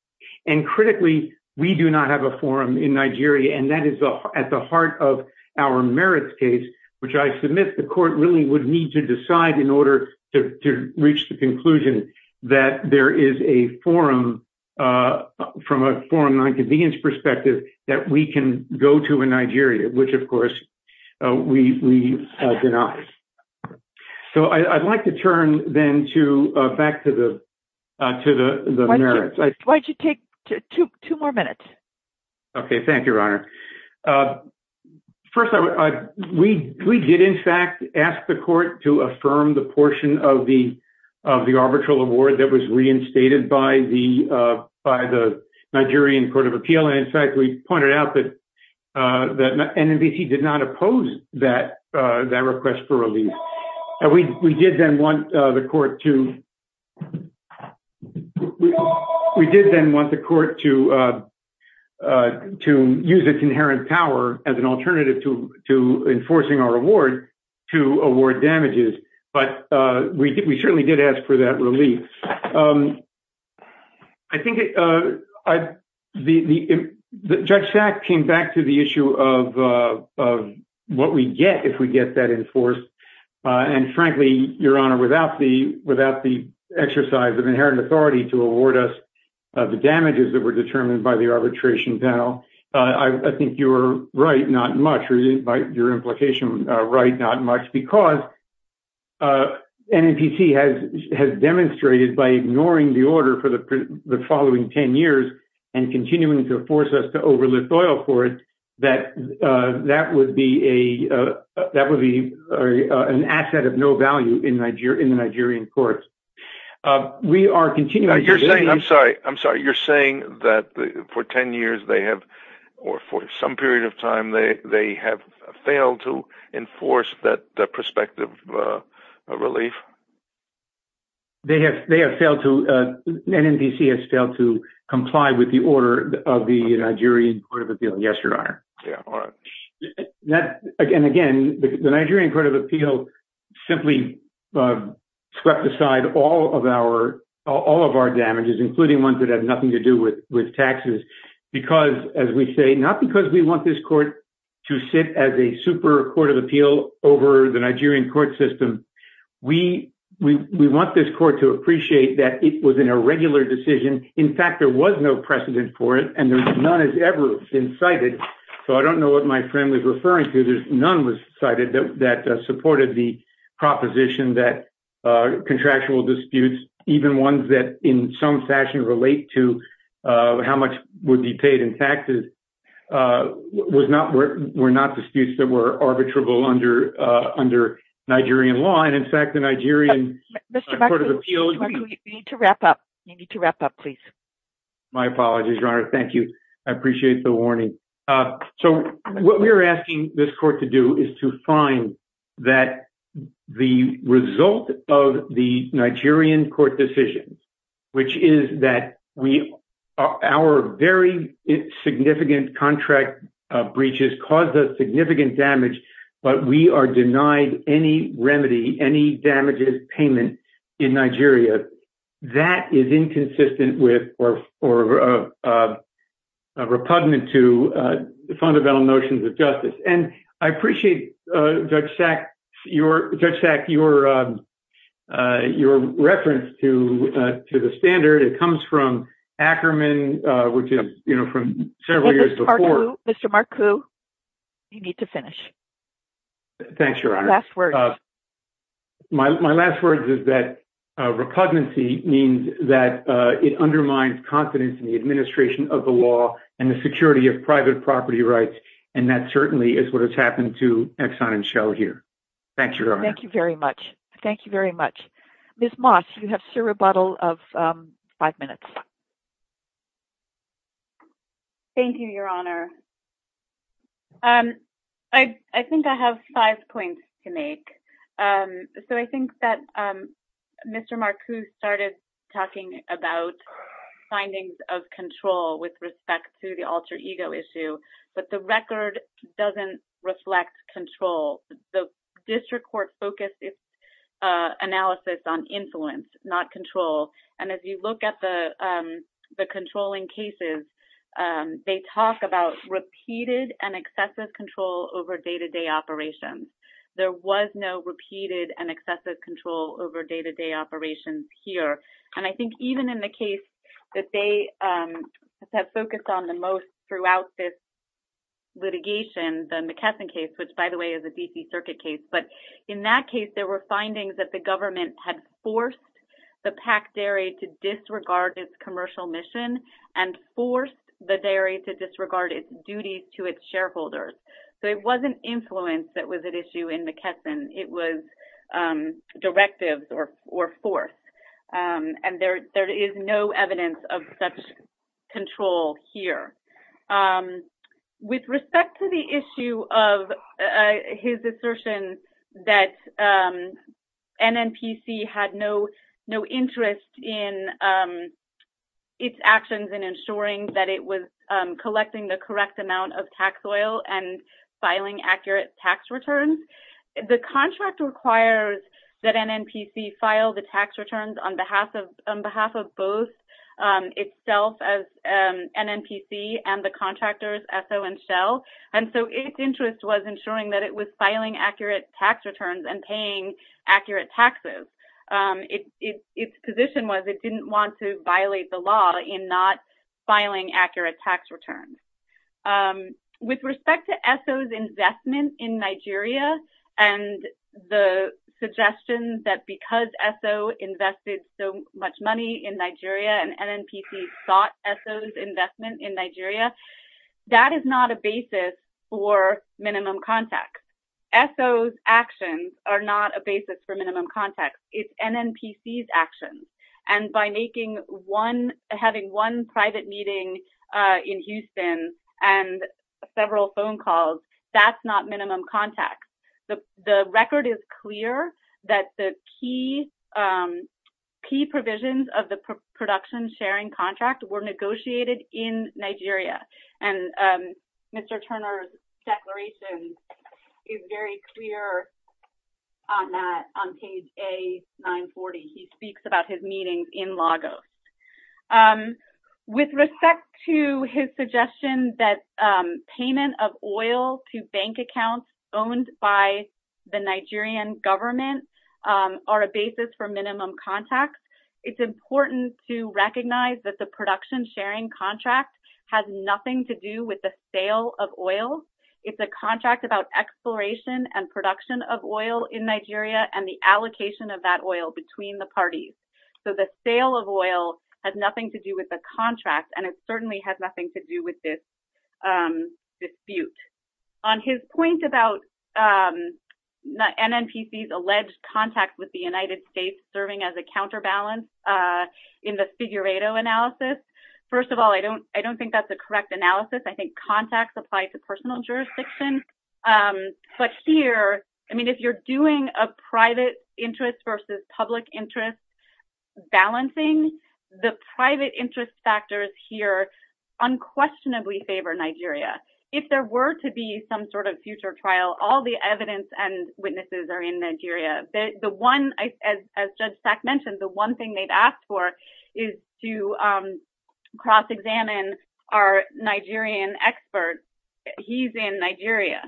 And critically, we do not have a forum in Nigeria, and that is at the heart of our merits case, which I submit the court really would need to decide in order to reach the conclusion that there is a forum from a foreign nonconvenience perspective that we can go to in Nigeria, which, of course, we did not. So I'd like to turn then to – back to the merits. Why don't you take two more minutes? Okay. Thank you, Your Honor. First, we did, in fact, ask the court to affirm the portion of the arbitral award that was reinstated by the Nigerian Court of Appeal. And, in fact, we pointed out that NNBC did not oppose that request for release. We did then want the court to use its inherent power as an alternative to enforcing our award to award damages. But we certainly did ask for that release. I think it – the – Judge Sack came back to the issue of what we get if we get that enforced. And, frankly, Your Honor, without the exercise of inherent authority to award us the damages that were determined by the arbitration panel, I think you are right not much. Your implication is right not much because NNBC has demonstrated by ignoring the order for the following 10 years and continuing to force us to overlook oil for it that that would be an asset of no value in Nigerian courts. We are continuing – I'm sorry. I'm sorry. You're saying that for 10 years they have – or for some period of time they have failed to enforce that prospective relief? They have failed to – NNBC has failed to comply with the order of the Nigerian Court of Appeal. Yes, Your Honor. And, again, the Nigerian Court of Appeal simply swept aside all of our damages, including ones that had nothing to do with taxes, because, as we say, not because we want this court to sit as a super court of appeal over the Nigerian court system. We want this court to appreciate that it was an irregular decision. In fact, there was no precedent for it, and none has ever been cited. So I don't know what my friend was referring to. None was cited that supported the proposition that contractual disputes, even ones that in some fashion relate to how much would be paid in taxes, were not disputes that were arbitrable under Nigerian law. And, in fact, the Nigerian Court of Appeal – Mr. Buckley, you need to wrap up. You need to wrap up, please. My apologies, Your Honor. Thank you. I appreciate the warning. So what we are asking this court to do is to find that the result of the Nigerian court decision, which is that our very significant contract breaches caused us significant damage, but we are denied any remedy, any damages payment in Nigeria. That is inconsistent with or repugnant to the fundamental notions of justice. And I appreciate, Judge Sack, your reference to the standard. It comes from Ackerman, which is, you know, from several years before. Mr. Marcoux, you need to finish. Thanks, Your Honor. Last words. My last words is that repugnancy means that it undermines confidence in the administration of the law and the security of private property rights, and that certainly is what has happened to Exxon and Shell here. Thank you, Your Honor. Thank you very much. Thank you very much. Ms. Moss, you have still a bottle of five minutes. Thank you, Your Honor. I think I have five points to make. So I think that Mr. Marcoux started talking about findings of control with respect to the alter ego issue, but the record doesn't reflect control. The district court focused its analysis on influence, not control. And as you look at the controlling cases, they talk about repeated and excessive control over day-to-day operations. There was no repeated and excessive control over day-to-day operations here. And I think even in the case that they have focused on the most throughout this litigation, the McKesson case, which by the way is a D.C. Circuit case, but in that case there were findings that the government had forced the PAC dairy to disregard its commercial mission and forced the dairy to disregard its duties to its shareholders. So it wasn't influence that was at issue in McKesson. It was directives or force. And there is no evidence of such control here. With respect to the issue of his assertion that NNPC had no interest in its actions in ensuring that it was collecting the correct amount of tax oil and filing accurate tax returns, the contract requires that NNPC file the tax returns on behalf of both itself as NNPC and the contractors, ESO and Shell. And so its interest was ensuring that it was filing accurate tax returns and paying accurate taxes. Its position was it didn't want to violate the law in not filing accurate tax returns. With respect to ESO's investment in Nigeria and the suggestions that because ESO invested so much money in Nigeria and NNPC sought ESO's investment in Nigeria, that is not a basis for minimum contact. ESO's actions are not a basis for minimum contact. It's NNPC's actions. And by having one private meeting in Houston and several phone calls, that's not minimum contact. The record is clear that the key provisions of the production sharing contract were negotiated in Nigeria. And Mr. Turner's declaration is very clear on that, on page A940. He speaks about his meetings in Lagos. With respect to his suggestion that payment of oil to bank accounts owned by the Nigerian government are a basis for minimum contact, it's important to recognize that the production sharing contract has nothing to do with the sale of oil. It's a contract about exploration and production of oil in Nigeria and the allocation of that oil between the parties. So the sale of oil has nothing to do with the contract, and it certainly has nothing to do with this dispute. On his point about NNPC's alleged contact with the United States serving as a counterbalance in the Figueredo analysis, first of all, I don't think that's a correct analysis. I think contacts apply to personal jurisdiction. But here, I mean, if you're doing a private interest versus public interest balancing, the private interest factors here unquestionably favor Nigeria. If there were to be some sort of future trial, all the evidence and witnesses are in Nigeria. As Judge Sack mentioned, the one thing they'd ask for is to cross-examine our Nigerian expert. He's in Nigeria.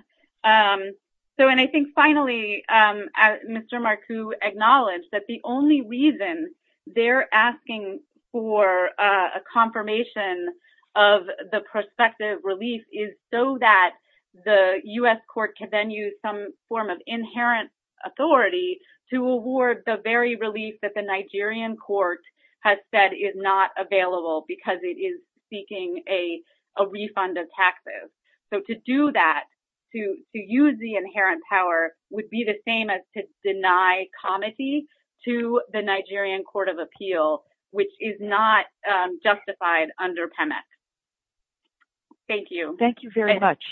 And I think finally, Mr. Marku acknowledged that the only reason they're asking for a confirmation of the prospective relief is so that the U.S. court can then use some form of inherent authority to award the very relief that the Nigerian court has said is not available because it is seeking a refund of taxes. So to do that, to use the inherent power, would be the same as to deny comity to the Nigerian court of appeal, which is not justified under PEMEC. Thank you. Thank you very much.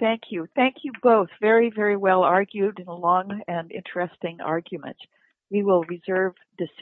Thank you. Thank you both. Very, very well argued and a long and interesting argument. We will reserve decisions.